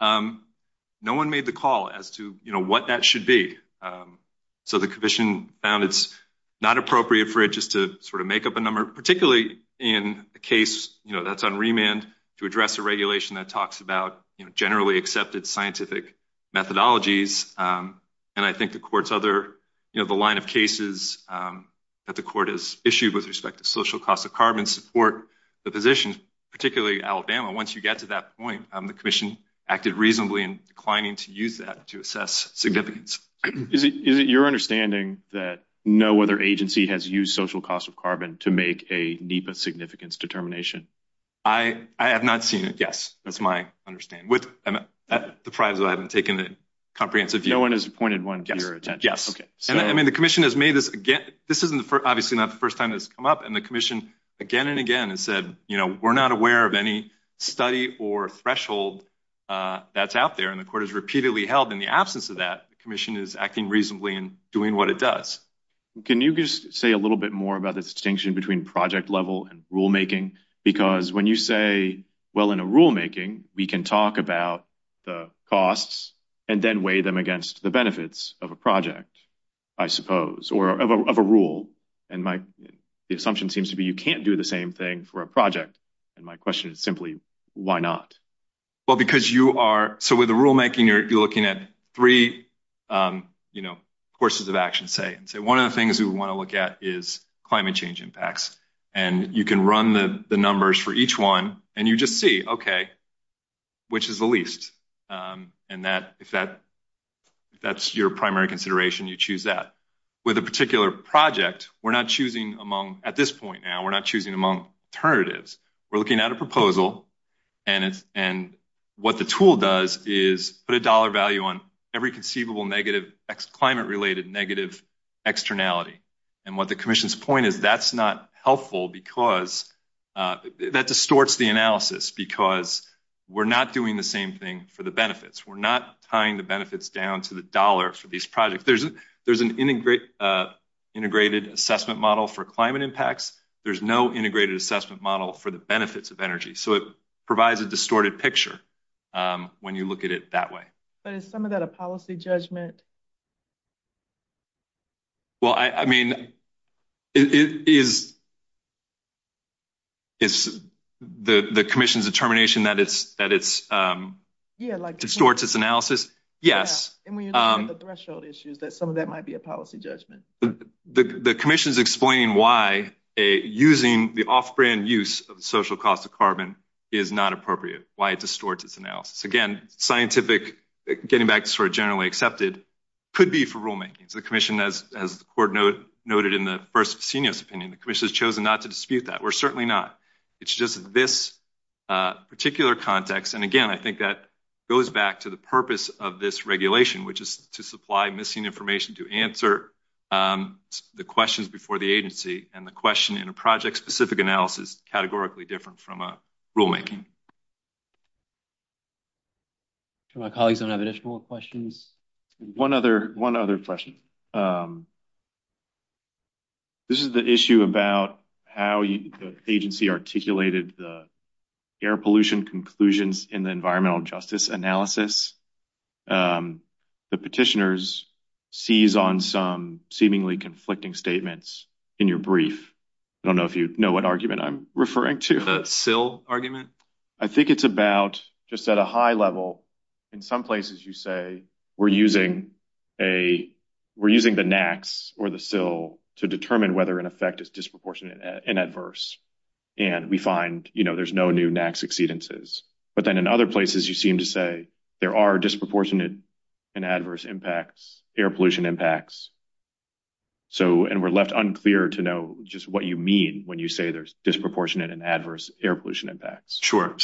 no one made the call as to, you know, what that should be. So, the commission found it's not appropriate for it just to sort of make up a number, particularly in a case, you know, that's on remand to address a regulation that talks about, you know, generally accepted scientific methodologies. And I think the court's other, you know, the line of cases that the court has issued with respect to social cost of carbon support the position, particularly Alabama. Once you get to that point, the commission acted reasonably in declining to use that to assess significance. Is it your understanding that no other agency has used social cost of carbon to make a NEPA significance determination? I have not seen it. Yes. That's my understanding. I'm surprised that I haven't taken a comprehensive view. No one has pointed one to your attention. Yes. Okay. I mean, the commission has made this again. This isn't, obviously, not the first time it's come up. And the commission again and again has said, you know, we're not aware of any study or threshold that's out there. And the court has repeatedly held in the absence of that, the commission is acting reasonably in doing what it does. Can you just say a little bit more about the distinction between project level and rulemaking? Because when you say, well, in a rulemaking, we can talk about the costs and then weigh them against the benefits of a project, I suppose, or of a rule. And my assumption seems to be you can't do the same thing for a project. And my question is simply, why not? Well, because you are – so with the rulemaking, you're looking at three, you know, courses of action, say. One of the things we want to look at is climate change impacts. And you can run the numbers for each one, and you just see, okay, which is the least. And if that's your primary consideration, you choose that. With a particular project, we're not choosing among – at this point now, we're not choosing among alternatives. We're looking at a proposal. And what the tool does is put a dollar value on every conceivable negative climate-related negative externality. And what the commission's point is that's not helpful because – that distorts the analysis because we're not doing the same thing for the benefits. We're not tying the benefits down to the dollar for these projects. There's an integrated assessment model for climate impacts. There's no integrated assessment model for the benefits of energy. So, it provides a distorted picture when you look at it that way. But is some of that a policy judgment? Well, I mean, is the commission's determination that it's – distorts its analysis? Yes. And when you look at the threshold issues, that some of that might be a policy judgment. The commission's explaining why using the off-brand use of social cost of carbon is not appropriate, why it distorts its analysis. Again, scientific – getting back to sort of generally accepted – could be for rulemaking. The commission, as the board noted in the first senior's opinion, the commission has chosen not to dispute that. We're certainly not. It's just this particular context – and again, I think that goes back to the purpose of this regulation, which is to supply missing information to answer the questions before the agency. And the question in a project-specific analysis is categorically different from a rulemaking. Do my colleagues have any additional questions? One other question. This is the issue about how the agency articulated the air pollution conclusions in the environmental justice analysis. The petitioners seize on some seemingly conflicting statements in your brief. I don't know if you know what argument I'm referring to. The fill argument? I think it's about just at a high level. In some places you say we're using the NAAQS or the fill to determine whether an effect is disproportionate and adverse. And we find there's no new NAAQS exceedances. But then in other places you seem to say there are disproportionate and adverse impacts, air pollution impacts. And we're left unclear to know just what you mean when you say there's disproportionate and adverse air pollution impacts. Sure.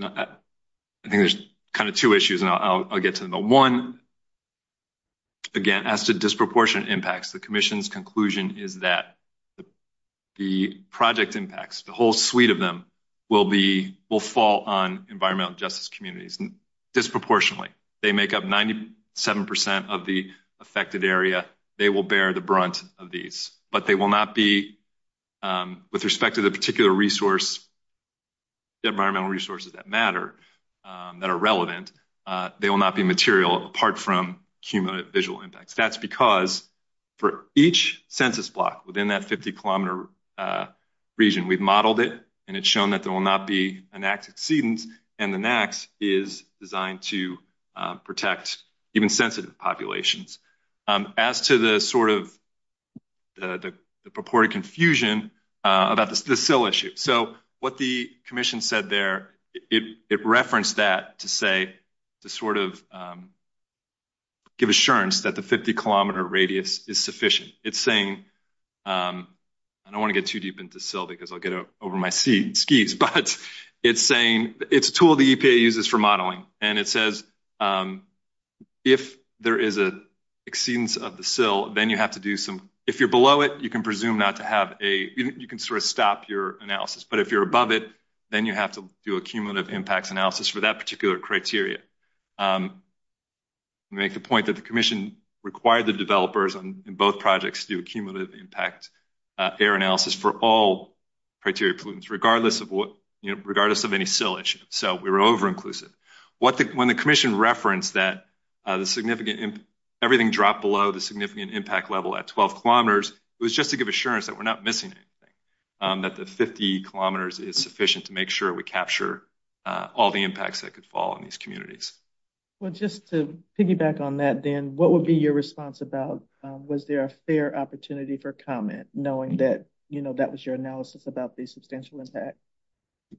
I think there's kind of two issues, and I'll get to them. One, again, as to disproportionate impacts, the commission's conclusion is that the project impacts, the whole suite of them, will fall on environmental justice communities disproportionately. They make up 97% of the affected area. They will bear the brunt of these. But they will not be, with respect to the particular environmental resources that matter, that are relevant, they will not be material apart from cumulative visual impacts. That's because for each census block within that 50-kilometer region, we've modeled it, and it's shown that there will not be NAAQS exceedance, and the NAAQS is designed to protect even sensitive populations. As to the sort of purported confusion about the sill issue, so what the commission said there, it referenced that to say, to sort of give assurance that the 50-kilometer radius is sufficient. It's saying, I don't want to get too deep into sill because I'll get over my skis, but it's saying it's a tool the EPA uses for modeling. And it says, if there is an exceedance of the sill, then you have to do some, if you're below it, you can presume not to have a, you can sort of stop your analysis. But if you're above it, then you have to do a cumulative impact analysis for that particular criteria. Make the point that the commission required the developers in both projects to do a cumulative impact air analysis for all criteria pollutants, regardless of any sill issue. So we were over-inclusive. When the commission referenced that everything dropped below the significant impact level at 12 kilometers, it was just to give assurance that we're not missing anything, that the 50 kilometers is sufficient to make sure we capture all the impacts that could fall on these communities. Well, just to piggyback on that then, what would be your response about was there a fair opportunity for comment, knowing that that was your analysis about the substantial impact?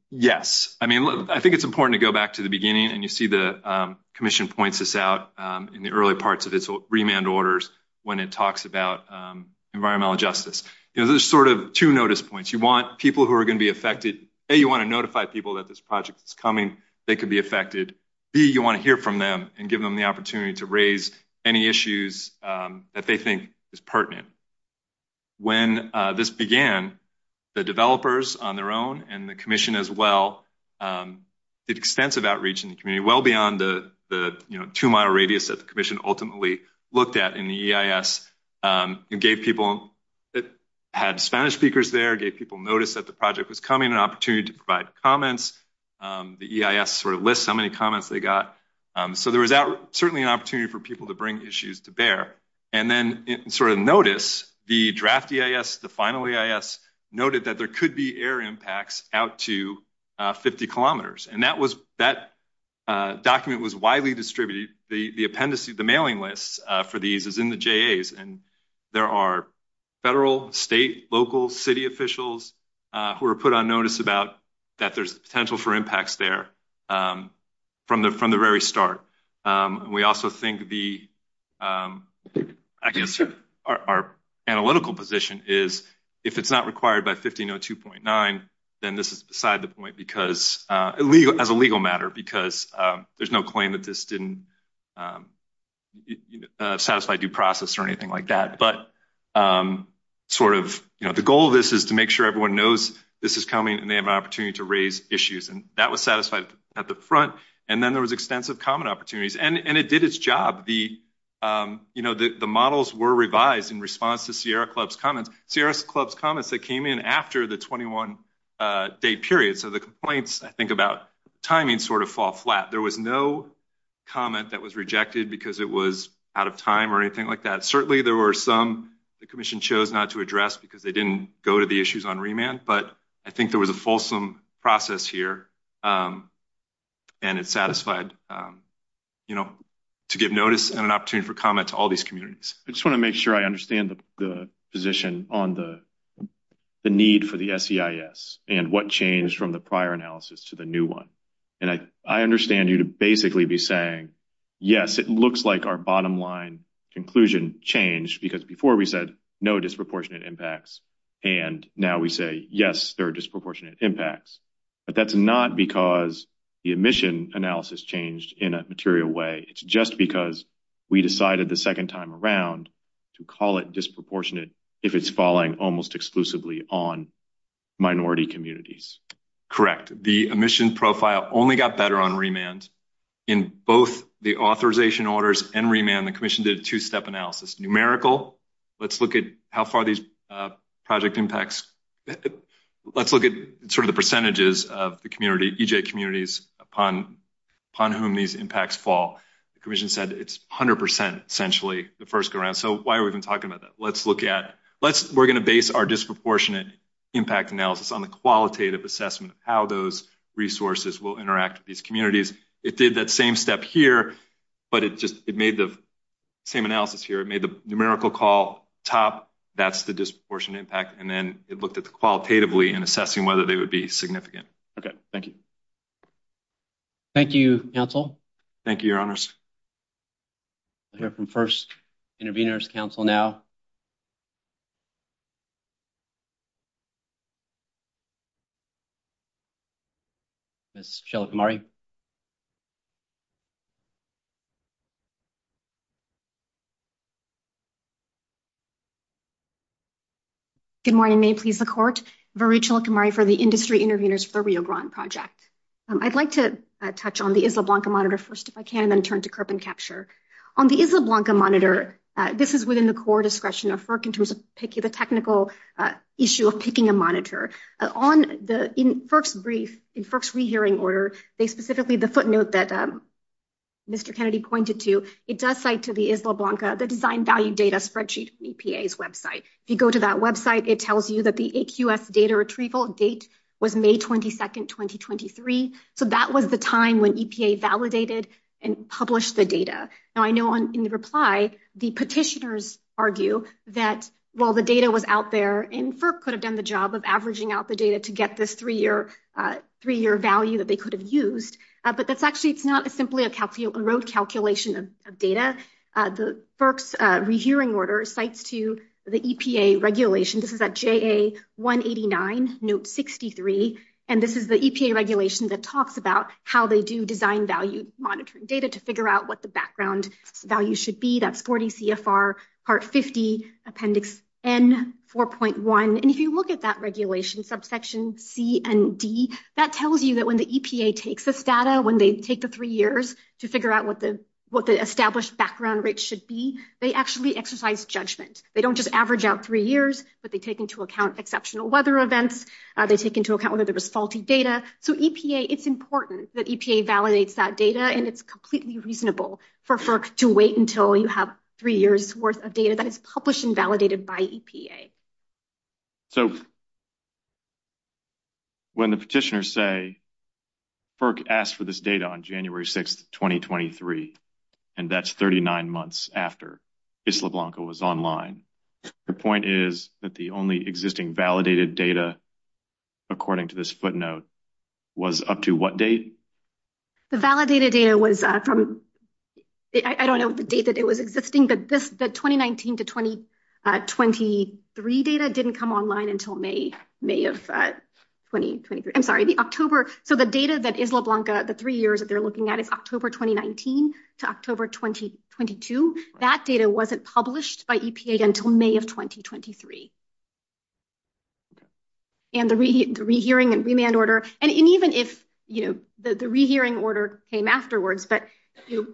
Yes. I mean, I think it's important to go back to the beginning, and you see the commission points this out in the early parts of its remand orders when it talks about environmental justice. There's sort of two notice points. You want people who are going to be affected. A, you want to notify people that this project is coming, they could be affected. B, you want to hear from them and give them the opportunity to raise any issues that they think is pertinent. When this began, the developers on their own and the commission as well did extensive outreach in the community, well beyond the two-mile radius that the commission ultimately looked at in the EIS, and gave people that had Spanish speakers there, gave people notice that the project was coming, an opportunity to provide comments. The EIS sort of lists how many comments they got. So there was certainly an opportunity for people to bring issues to bear. And then in sort of notice, the draft EIS, the final EIS, noted that there could be air impacts out to 50 kilometers, and that document was widely distributed. The appendices, the mailing list for these is in the JAs, and there are federal, state, local, city officials who were put on notice about that there's potential for impacts there from the very start. We also think our analytical position is if it's not required by 1502.9, then this is beside the point as a legal matter because there's no claim that this didn't satisfy due process or anything like that. But sort of the goal of this is to make sure everyone knows this is coming and they have an opportunity to raise issues. And that was satisfied at the front. And then there was extensive comment opportunities. And it did its job. The models were revised in response to Sierra Club's comments. Sierra Club's comments, they came in after the 21-day period. So the complaints, I think, about timing sort of fall flat. There was no comment that was rejected because it was out of time or anything like that. Certainly there were some the commission chose not to address because they didn't go to the issues on remand, but I think there was a fulsome process here and it satisfied to get notice and an opportunity for comment to all these communities. I just want to make sure I understand the position on the need for the SEIS and what changed from the prior analysis to the new one. And I understand you to basically be saying, yes, it looks like our bottom line conclusion changed because before we said no disproportionate impacts. And now we say, yes, there are disproportionate impacts. But that's not because the admission analysis changed in a material way. It's just because we decided the second time around to call it disproportionate if it's falling almost exclusively on minority communities. Correct. The admission profile only got better on remand. In both the authorization orders and remand, the commission did a two-step analysis. It's numerical. Let's look at how far these project impacts. Let's look at sort of the percentages of the community, EJ communities, upon whom these impacts fall. The commission said it's 100%, essentially, the first go around. So why are we even talking about that? We're going to base our disproportionate impact analysis on the qualitative assessment of how those resources will interact with these communities. It did that same step here, but it just made the same analysis here. It made the numerical call top. That's the disproportionate impact. And then it looked at the qualitatively and assessing whether they would be significant. Okay. Thank you. Thank you, counsel. Thank you, your honors. We'll hear from first intervenors, counsel, now. Ms. Shalakumari. Good morning. May it please the court. Varu Shalakumari for the Industry Intervenors for Rio Grande Project. I'd like to touch on the Isla Blanca Monitor first, if I can, and then turn to CURP and CAPTURE. On the Isla Blanca Monitor, this is within the core discretion of FERC in terms of the technical issue of picking a monitor. In FERC's brief, in FERC's rehearing order, specifically the footnote that Mr. Kennedy pointed to, it does cite to the Isla Blanca, the Design Value Data Spreadsheet, EPA's website. If you go to that website, it tells you that the AQF data retrieval date was May 22nd, 2023. So that was the time when EPA validated and published the data. Now, I know in reply, the petitioners argue that while the data was out there and FERC could have done the job of averaging out the data to get this three-year value that they could have used, but it's actually not simply a road calculation of data. The FERC's rehearing order cites to the EPA regulation. This is at JA 189, Note 63. And this is the EPA regulation that talks about how they do design value monitoring data to figure out what the background value should be. That's 40 CFR Part 50, Appendix N 4.1. And if you look at that regulation, subsection C and D, that tells you that when the EPA takes this data, when they take the three years to figure out what the established background rates should be, they actually exercise judgment. They don't just average out three years, but they take into account exceptional weather events. They take into account whether there was faulty data. So EPA, it's important that EPA validates that data, and it's completely reasonable for FERC to wait until you have three years' worth of data that is published and validated by EPA. So when the petitioners say FERC asked for this data on January 6, 2023, and that's 39 months after Isla Blanca was online, the point is that the only existing validated data, according to this footnote, was up to what date? The validated data was from, I don't know the date that it was existing, but the 2019 to 2023 data didn't come online until May of 2023, I'm sorry, the October. So the data that Isla Blanca, the three years that they're looking at is October 2019 to October 2022. That data wasn't published by EPA until May of 2023. And the rehearing and remand order, and even if the rehearing order came afterwards, but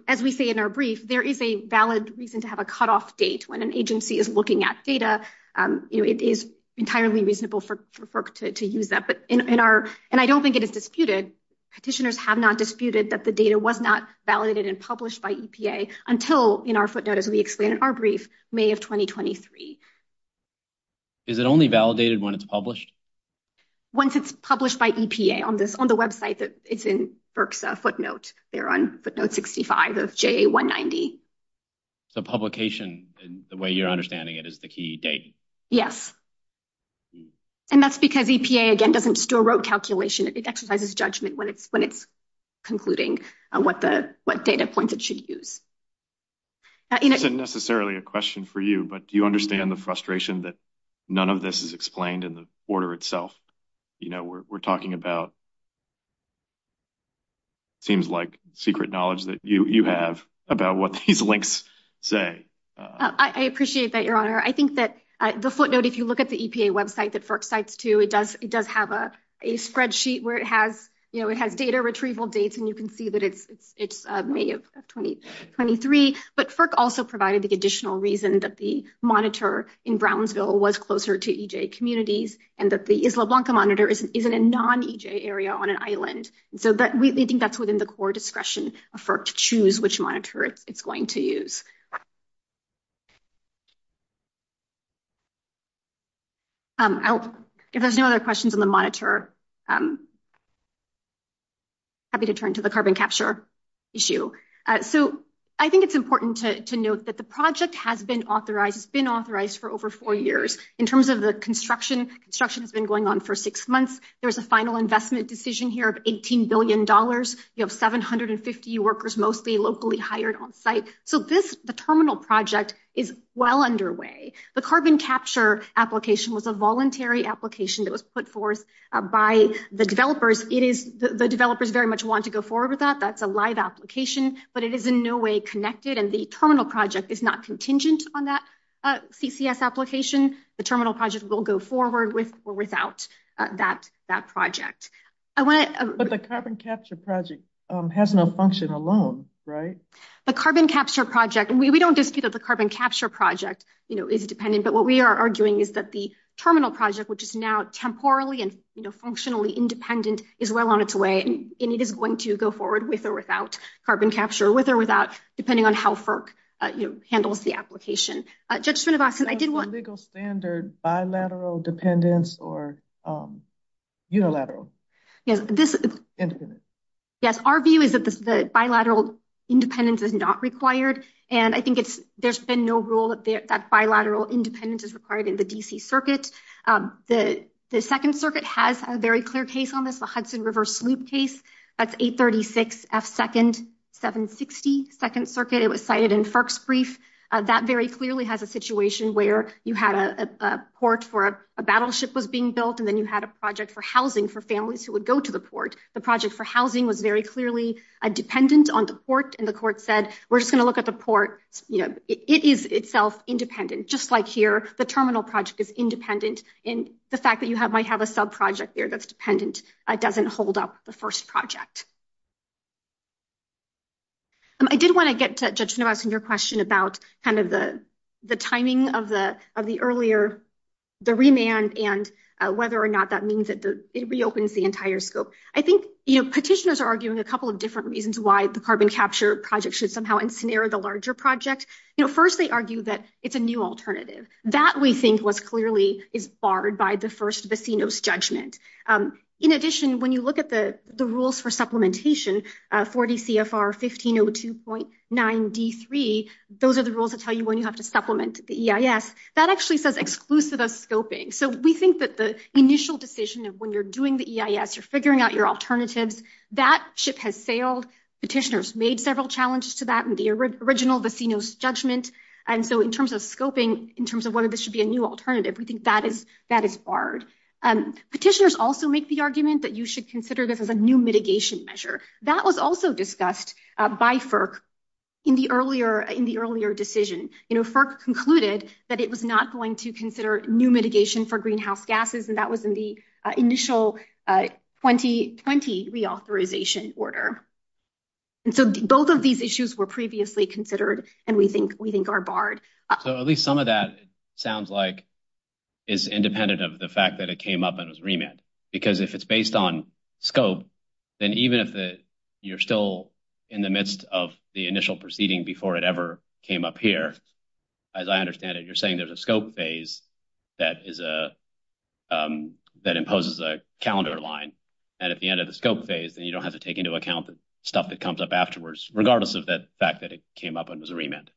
as we say in our brief, there is a valid reason to have a cutoff date. When an agency is looking at data, it is entirely reasonable for FERC to use that. And I don't think it is disputed, petitioners have not disputed that the data was not validated and published by EPA until, in our footnote, as we explain in our brief, May of 2023. Is it only validated when it's published? Once it's published by EPA on the website, it's in FERC's footnote. They're on footnote 65 of JA190. So publication, the way you're understanding it, is the key date? Yes. And that's because EPA, again, doesn't just do a road calculation. It exercises judgment when it's concluding on what data points it should use. This isn't necessarily a question for you, but do you understand the frustration that none of this is explained in the order itself? We're talking about, it seems like, secret knowledge that you have about what these links say. I appreciate that, Your Honor. I think that the footnote, if you look at the EPA website, the FERC sites too, it does have a spreadsheet where it has data retrieval dates. And you can see that it's May of 2023. But FERC also provided the additional reason that the monitor in Brownsville was closer to EJ communities and that the Isla Blanca monitor is in a non-EJ area on an island. So we think that's within the core discretion of FERC to choose which monitor it's going to use. If there's no other questions on the monitor, I'm happy to turn to the carbon capture issue. So I think it's important to note that the project has been authorized for over four years. In terms of the construction, construction has been going on for six months. There's a final investment decision here of $18 billion. You have 750 workers, mostly locally hired on site. So the terminal project is well underway. The carbon capture application was a voluntary application that was put forth by the developers. The developers very much want to go forward with that. That's a live application, but it is in no way connected. And the terminal project is not contingent on that CCS application. The terminal project will go forward with or without that project. But the carbon capture project has no function alone, right? The carbon capture project, and we don't dispute that the carbon capture project is dependent. But what we are arguing is that the terminal project, which is now temporally and functionally independent, is well on its way. And it is going to go forward with or without carbon capture, with or without, depending on how FERC handles the application. That's a legal standard, bilateral dependence or unilateral independence? Yes, our view is that bilateral independence is not required. And I think there's been no rule that bilateral independence is required in the D.C. Circuit. The Second Circuit has a very clear case on this, the Hudson River Sloop case. That's 836 F. 2nd, 760 Second Circuit. It was cited in FERC's brief. That very clearly has a situation where you had a port for a battleship was being built, and then you had a project for housing for families who would go to the port. The project for housing was very clearly dependent on the port, and the court said, we're just going to look at the port. It is itself independent. Just like here, the terminal project is independent, and the fact that you might have a subproject there that's dependent doesn't hold up the first project. I did want to get to, Judge Snow, your question about the timing of the earlier, the remand, and whether or not that means it reopens the entire scope. I think petitioners are arguing a couple of different reasons why the carbon capture project should somehow incinerate the larger project. First, they argue that it's a new alternative. That, we think, was clearly barred by the first Bacinos judgment. In addition, when you look at the rules for supplementation, 40 CFR 1502.9 D3, those are the rules that tell you when you have to supplement the EIS. That actually says exclusive of scoping. So we think that the initial decision of when you're doing the EIS, you're figuring out your alternatives, that ship has failed. Petitioners made several challenges to that in the original Bacinos judgment, and so in terms of scoping, in terms of whether there should be a new alternative, we think that is barred. Petitioners also make the argument that you should consider this as a new mitigation measure. That was also discussed by FERC in the earlier decision. FERC concluded that it was not going to consider new mitigation for greenhouse gases, and that was in the initial 2020 reauthorization order. And so both of these issues were previously considered, and we think are barred. So at least some of that sounds like it's independent of the fact that it came up as a remand. Because if it's based on scope, then even if you're still in the midst of the initial proceeding before it ever came up here, as I understand it, you're saying there's a scope phase that imposes a calendar line. And at the end of the scope phase, then you don't have to take into account the stuff that comes up afterwards, regardless of the fact that it came up and was a remand.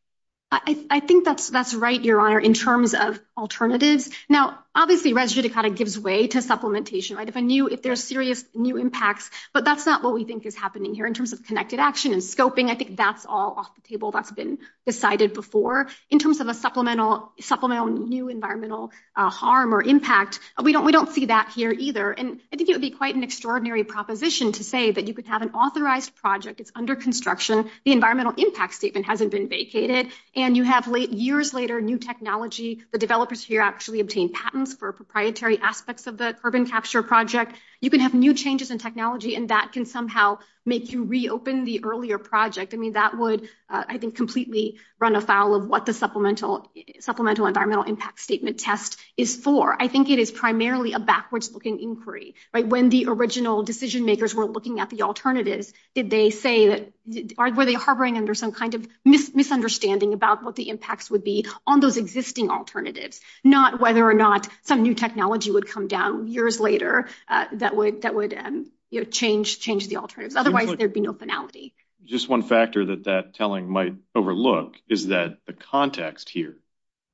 I think that's right, Your Honor, in terms of alternatives. Now, obviously, it gives way to supplementation. If there's serious new impacts, but that's not what we think is happening here in terms of connected action and scoping. I think that's all off the table. That's been decided before. In terms of a supplemental new environmental harm or impact, we don't see that here either. And I think it would be quite an extraordinary proposition to say that you could have an authorized project, it's under construction, the environmental impact statement hasn't been vacated, and you have years later new technology. The developers here actually obtained patents for proprietary aspects of the urban capture project. You can have new changes in technology, and that can somehow make you reopen the earlier project. I mean, that would, I think, completely run afoul of what the supplemental environmental impact statement test is for. I think it is primarily a backwards-looking inquiry. When the original decision-makers were looking at the alternatives, did they say that, or were they harboring under some kind of misunderstanding about what the impacts would be on those existing alternatives? Not whether or not some new technology would come down years later that would change the alternatives. Otherwise, there'd be no finality. Just one factor that that telling might overlook is that the context here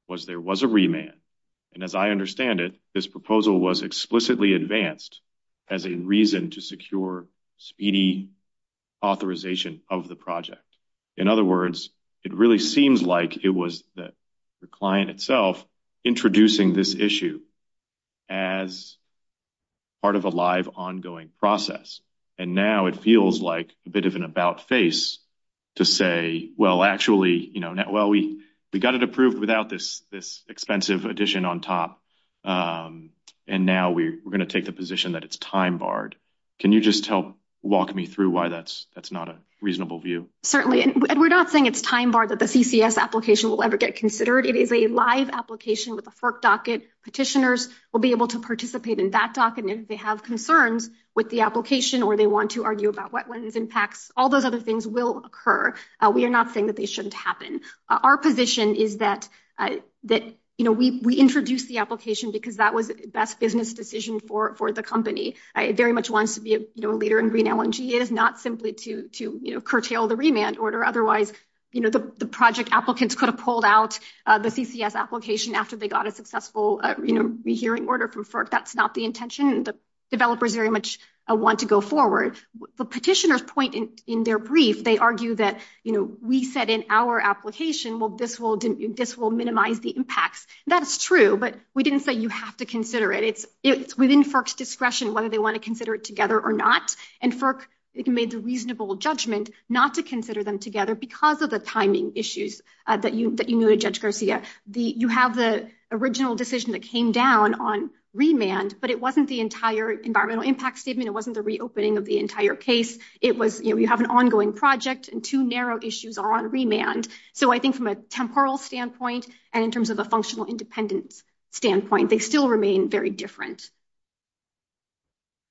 was there was a remand, and as I understand it, this proposal was explicitly advanced as a reason to secure speedy authorization of the project. In other words, it really seems like it was the client itself introducing this issue as part of a live, ongoing process. And now it feels like a bit of an about-face to say, well, actually, we got it approved without this expensive addition on top, and now we're going to take the position that it's time-barred. Can you just help walk me through why that's not a reasonable view? Certainly. And we're not saying it's time-barred that the CCS application will ever get considered. It is a live application with a FERC docket. Petitioners will be able to participate in that docket, and if they have concerns with the application or they want to argue about wetlands impacts, all those other things will occur. We are not saying that they shouldn't happen. Our position is that we introduced the application because that was the best business decision for the company. It very much wants to be a leader in Green LNG. It is not simply to curtail the remand order. Otherwise, the project applicants could have pulled out the CCS application after they got a successful rehearing order from FERC. That's not the intention, and the developers very much want to go forward. The petitioners point in their brief, they argue that we said in our application, well, this will minimize the impacts. That's true, but we didn't say you have to consider it. It's within FERC's discretion whether they want to consider it together or not. And FERC made the reasonable judgment not to consider them together because of the timing issues that you noted, Judge Garcia. You have the original decision that came down on remand, but it wasn't the entire environmental impact statement. It wasn't the reopening of the entire case. You have an ongoing project, and two narrow issues are on remand. So, I think from a temporal standpoint and in terms of a functional independence standpoint, they still remain very different.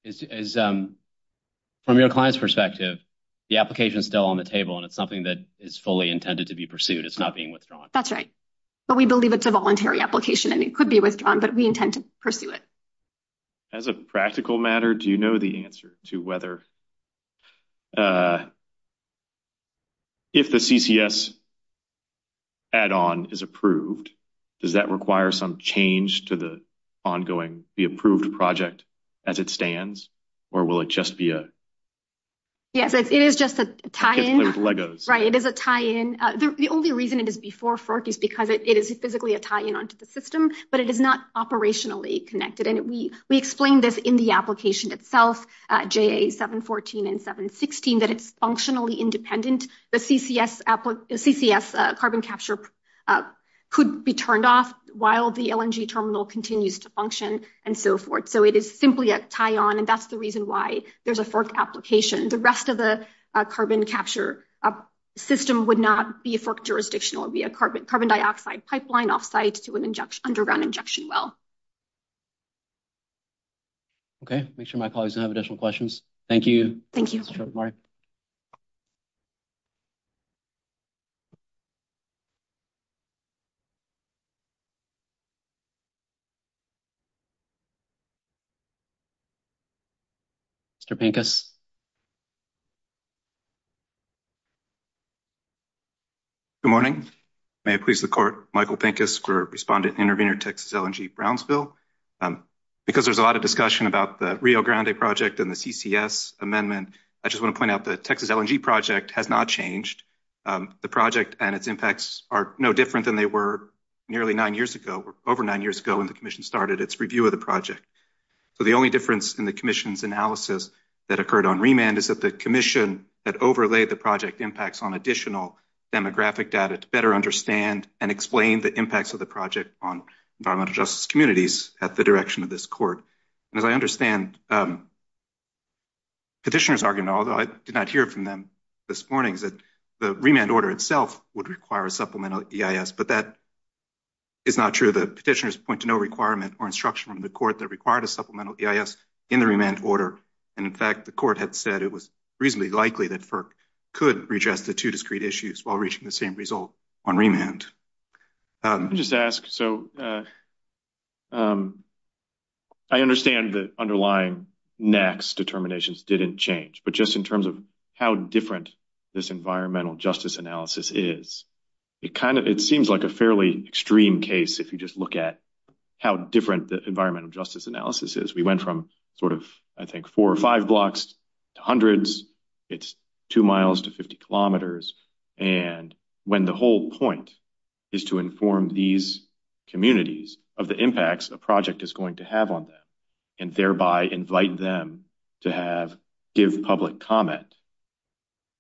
From your client's perspective, the application is still on the table, and it's something that is fully intended to be pursued. It's not being withdrawn. That's right, but we believe it's a voluntary application, and it could be withdrawn, but we intend to pursue it. As a practical matter, do you know the answer to whether, if the CCS add-on is approved, does that require some change to the ongoing, the approved project as it stands, or will it just be a… We explain this in the application itself, JA 714 and 716, that it's functionally independent. The CCS carbon capture could be turned off while the LNG terminal continues to function and so forth. So, it is simply a tie-on, and that's the reason why there's a FERC application. The rest of the carbon capture system would not be a FERC jurisdiction. It would be a carbon dioxide pipeline off-site to an underground injection well. Okay, make sure my colleagues don't have additional questions. Thank you. Thank you. Mr. Pincus? Good morning. May it please the Court, Michael Pincus for Respondent Intervenor, Texas LNG Brownsville. Because there's a lot of discussion about the Rio Grande project and the CCS amendment, I just want to point out that the Texas LNG project has not changed. The project and its impacts are no different than they were nearly nine years ago, over nine years ago, when the Commission started its review of the project. So, the only difference in the Commission's analysis that occurred on remand is that the Commission that overlaid the project impacts on additional demographic data to better understand and explain the impacts of the project on environmental justice communities at the direction of this Court. As I understand Petitioner's argument, although I did not hear it from them this morning, is that the remand order itself would require a supplemental EIS. But that is not true. The Petitioner's point to no requirement or instruction from the Court that required a supplemental EIS in the remand order. And, in fact, the Court had said it was reasonably likely that FERC could redress the two discrete issues while reaching the same result on remand. Let me just ask. So, I understand the underlying NAAQS determinations didn't change, but just in terms of how different this environmental justice analysis is, it seems like a fairly extreme case if you just look at how different the environmental justice analysis is. We went from sort of, I think, four or five blocks to hundreds. It's two miles to 50 kilometers. And when the whole point is to inform these communities of the impacts a project is going to have on them and thereby invite them to give public comment,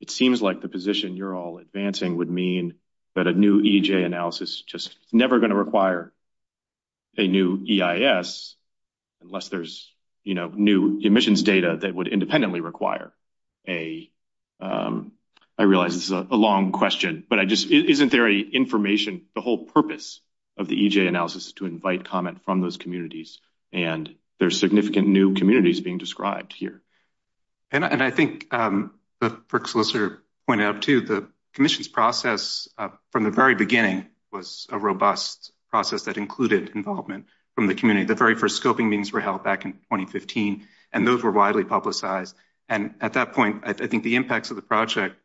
it seems like the position you're all advancing would mean that a new EJ analysis is just never going to require a new EIS unless there's, you know, new admissions data that would independently require a, I realize this is a long question, but I just, isn't there a information, the whole purpose of the EJ analysis is to invite comment from those communities and there's significant new communities being described here? And I think the FERC solicitor pointed out too, the commission's process from the very beginning was a robust process that included involvement from the community. The very first scoping meetings were held back in 2015, and those were widely publicized. And at that point, I think the impacts of the project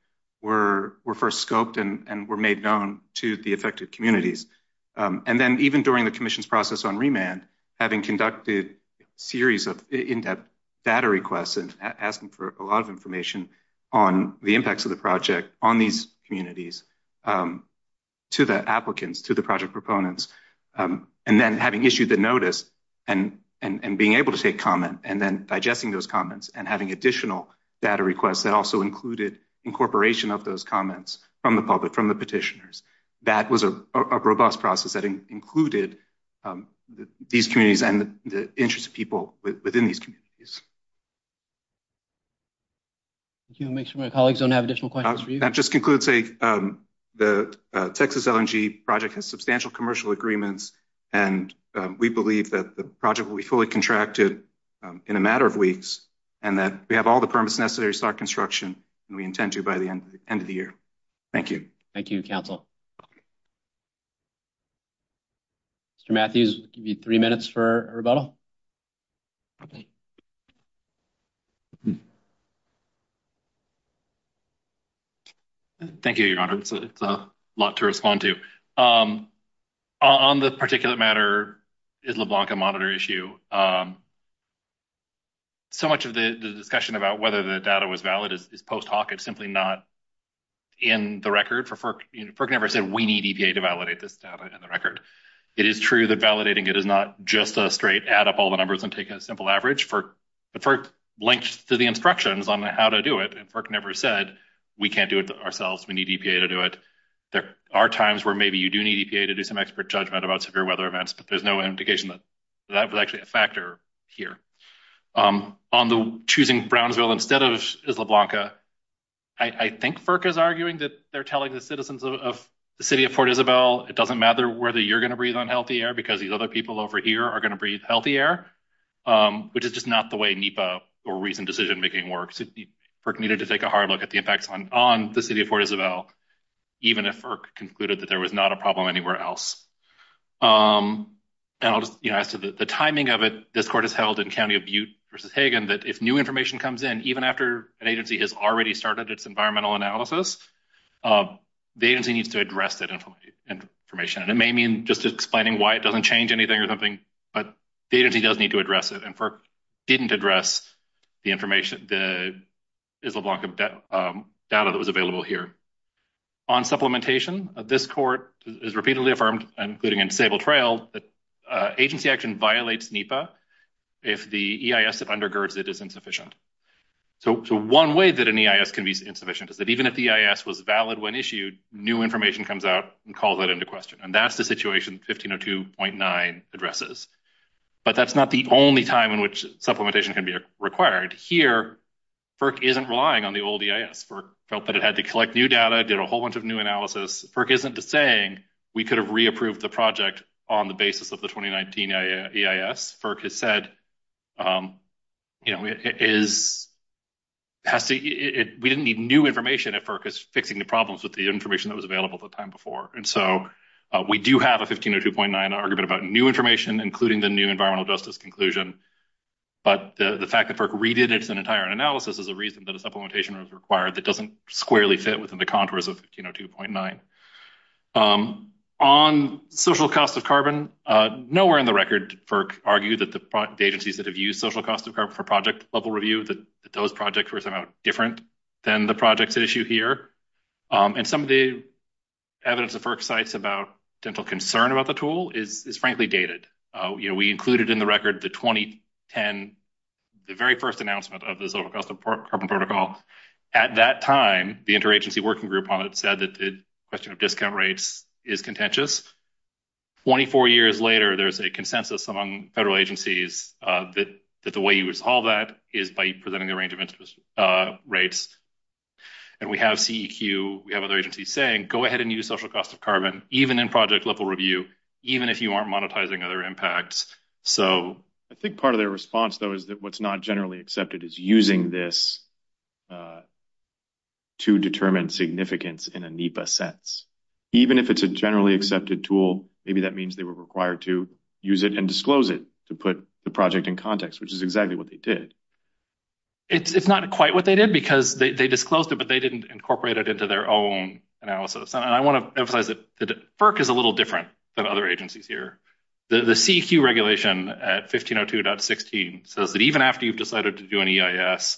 were first scoped and were made known to the affected communities. And then even during the commission's process on remand, having conducted a series of in-depth data requests and asking for a lot of information on the impacts of the project on these communities to the applicants, to the project proponents, and then having issued the notice and being able to take comment and then digesting those comments and having additional data requests that also included incorporation of those comments from the public, from the petitioners. That was a robust process that included these communities and the interests of people within these communities. Thank you. I'll make sure my colleagues don't have additional questions for you. That just concludes the Texas LNG project has substantial commercial agreements, and we believe that the project will be fully contracted in a matter of weeks, and that we have all the permits necessary to start construction, and we intend to by the end of the year. Thank you. Thank you, Council. Mr. Matthews, you have three minutes for a rebuttal. Thank you, Your Honor. It's a lot to respond to. On this particular matter, the LeBlanca Monitor issue, so much of the discussion about whether the data was valid is post hoc. It's simply not in the record. FERC never said we need EPA to validate this data in the record. It is true that validating it is not just a straight add up all the numbers and take a simple average. FERC links to the instructions on how to do it, and FERC never said we can't do it ourselves, we need EPA to do it. There are times where maybe you do need EPA to do some expert judgment about severe weather events, but there's no indication that that was actually a factor here. On the choosing Brownsville instead of Isla Blanca, I think FERC is arguing that they're telling the citizens of the city of Port Isabel, it doesn't matter whether you're going to breathe unhealthy air because these other people over here are going to breathe healthy air. But it's just not the way NEPA or recent decision making works. FERC needed to take a hard look at the impacts on the city of Port Isabel, even if FERC concluded that there was not a problem anywhere else. The timing of it, this court has held in County of Butte versus Hagen, that if new information comes in, even after an agency has already started its environmental analysis, the agency needs to address that information. And it may mean just explaining why it doesn't change anything or something, but the agency does need to address it, and FERC didn't address the Isla Blanca data that was available here. On supplementation, this court has repeatedly affirmed, including in disabled trails, that agency action violates NEPA if the EIS that undergirds it is insufficient. So one way that an EIS can be insufficient is that even if the EIS was valid when issued, new information comes out and calls that into question. And that's the situation 1502.9 addresses. But that's not the only time in which supplementation can be required. Here, FERC isn't relying on the old EIS. FERC felt that it had to collect new data, did a whole bunch of new analysis. FERC isn't saying we could have re-approved the project on the basis of the 2019 EIS. FERC has said, you know, we didn't need new information at FERC. It's fixing the problems with the information that was available the time before. And so we do have a 1502.9 argument about new information, including the new environmental justice conclusion. But the fact that FERC redid its entire analysis is a reason that a supplementation was required that doesn't squarely fit within the contours of 1502.9. On social cost of carbon, nowhere in the record, FERC argued that the agencies that have used social cost of carbon for project level review, that those projects were somehow different than the projects issued here. And some of the evidence that FERC cites about dental concern about the tool is frankly dated. You know, we included in the record the 2010, the very first announcement of the social cost of carbon protocols. At that time, the interagency working group on it said that the question of discount rates is contentious. 24 years later, there's a consensus among federal agencies that the way you resolve that is by presenting the range of interest rates. And we have CEQ, we have other agencies saying, go ahead and use social cost of carbon, even in project level review, even if you aren't monetizing other impacts. I think part of their response, though, is that what's not generally accepted is using this to determine significance in a NEPA sense. Even if it's a generally accepted tool, maybe that means they were required to use it and disclose it to put the project in context, which is exactly what they did. It's not quite what they did because they disclosed it, but they didn't incorporate it into their own analysis. I want to emphasize that FERC is a little different than other agencies here. The CEQ regulation at 1502.16 says that even after you've decided to do an EIS,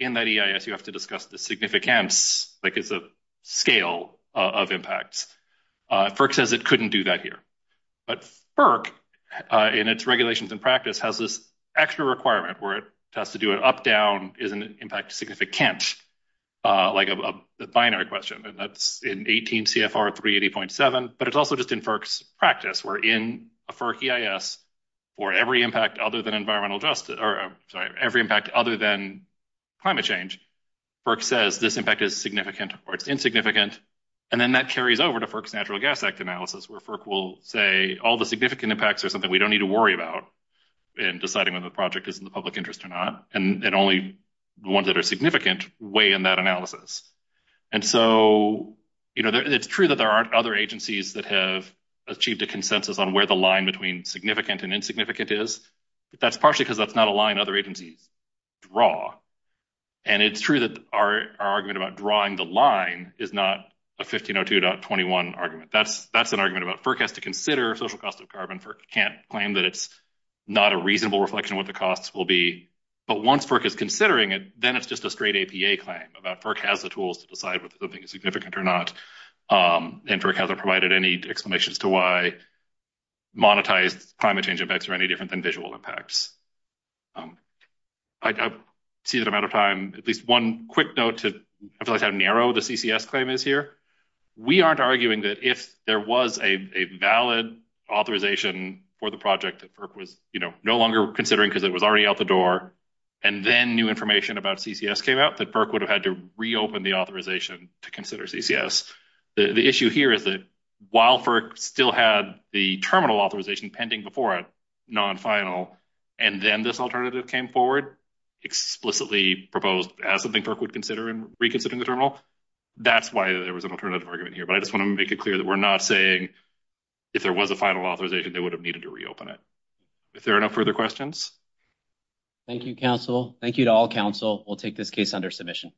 in that EIS you have to discuss the significance, like it's a scale of impact. FERC says it couldn't do that here. But FERC, in its regulations and practice, has this extra requirement where it has to do an up-down, is an impact significant, like a binary question. That's in 18 CFR 380.7, but it's also just in FERC's practice. We're in a FERC EIS for every impact other than climate change. FERC says this impact is significant or it's insignificant, and then that carries over to FERC's Natural Gas Act analysis, where FERC will say all the significant impacts are something we don't need to worry about in deciding whether the project is in the public interest or not, and only the ones that are significant weigh in that analysis. And so it's true that there aren't other agencies that have achieved a consensus on where the line between significant and insignificant is, but that's partially because that's not a line other agencies draw. And it's true that our argument about drawing the line is not a 1502.21 argument. That's an argument about FERC has to consider social cost of carbon. FERC can't claim that it's not a reasonable reflection of what the costs will be. But once FERC is considering it, then it's just a straight APA claim about FERC has the tools to decide whether something is significant or not, and FERC hasn't provided any explanations to why monetized climate change effects are any different than visual impacts. I see that I'm out of time. At least one quick note to how narrow the CCS claim is here. We aren't arguing that if there was a valid authorization for the project that FERC was no longer considering because it was already out the door, and then new information about CCS came out, that FERC would have had to reopen the authorization to consider CCS. The issue here is that while FERC still had the terminal authorization pending before it, non-final, and then this alternative came forward, explicitly proposed as something FERC would consider in reconsidering the terminal, that's why there was an alternative argument here. But I just want to make it clear that we're not saying if there was a final authorization, they would have needed to reopen it. If there are no further questions? Thank you, counsel. Thank you to all counsel. We'll take this case under submission.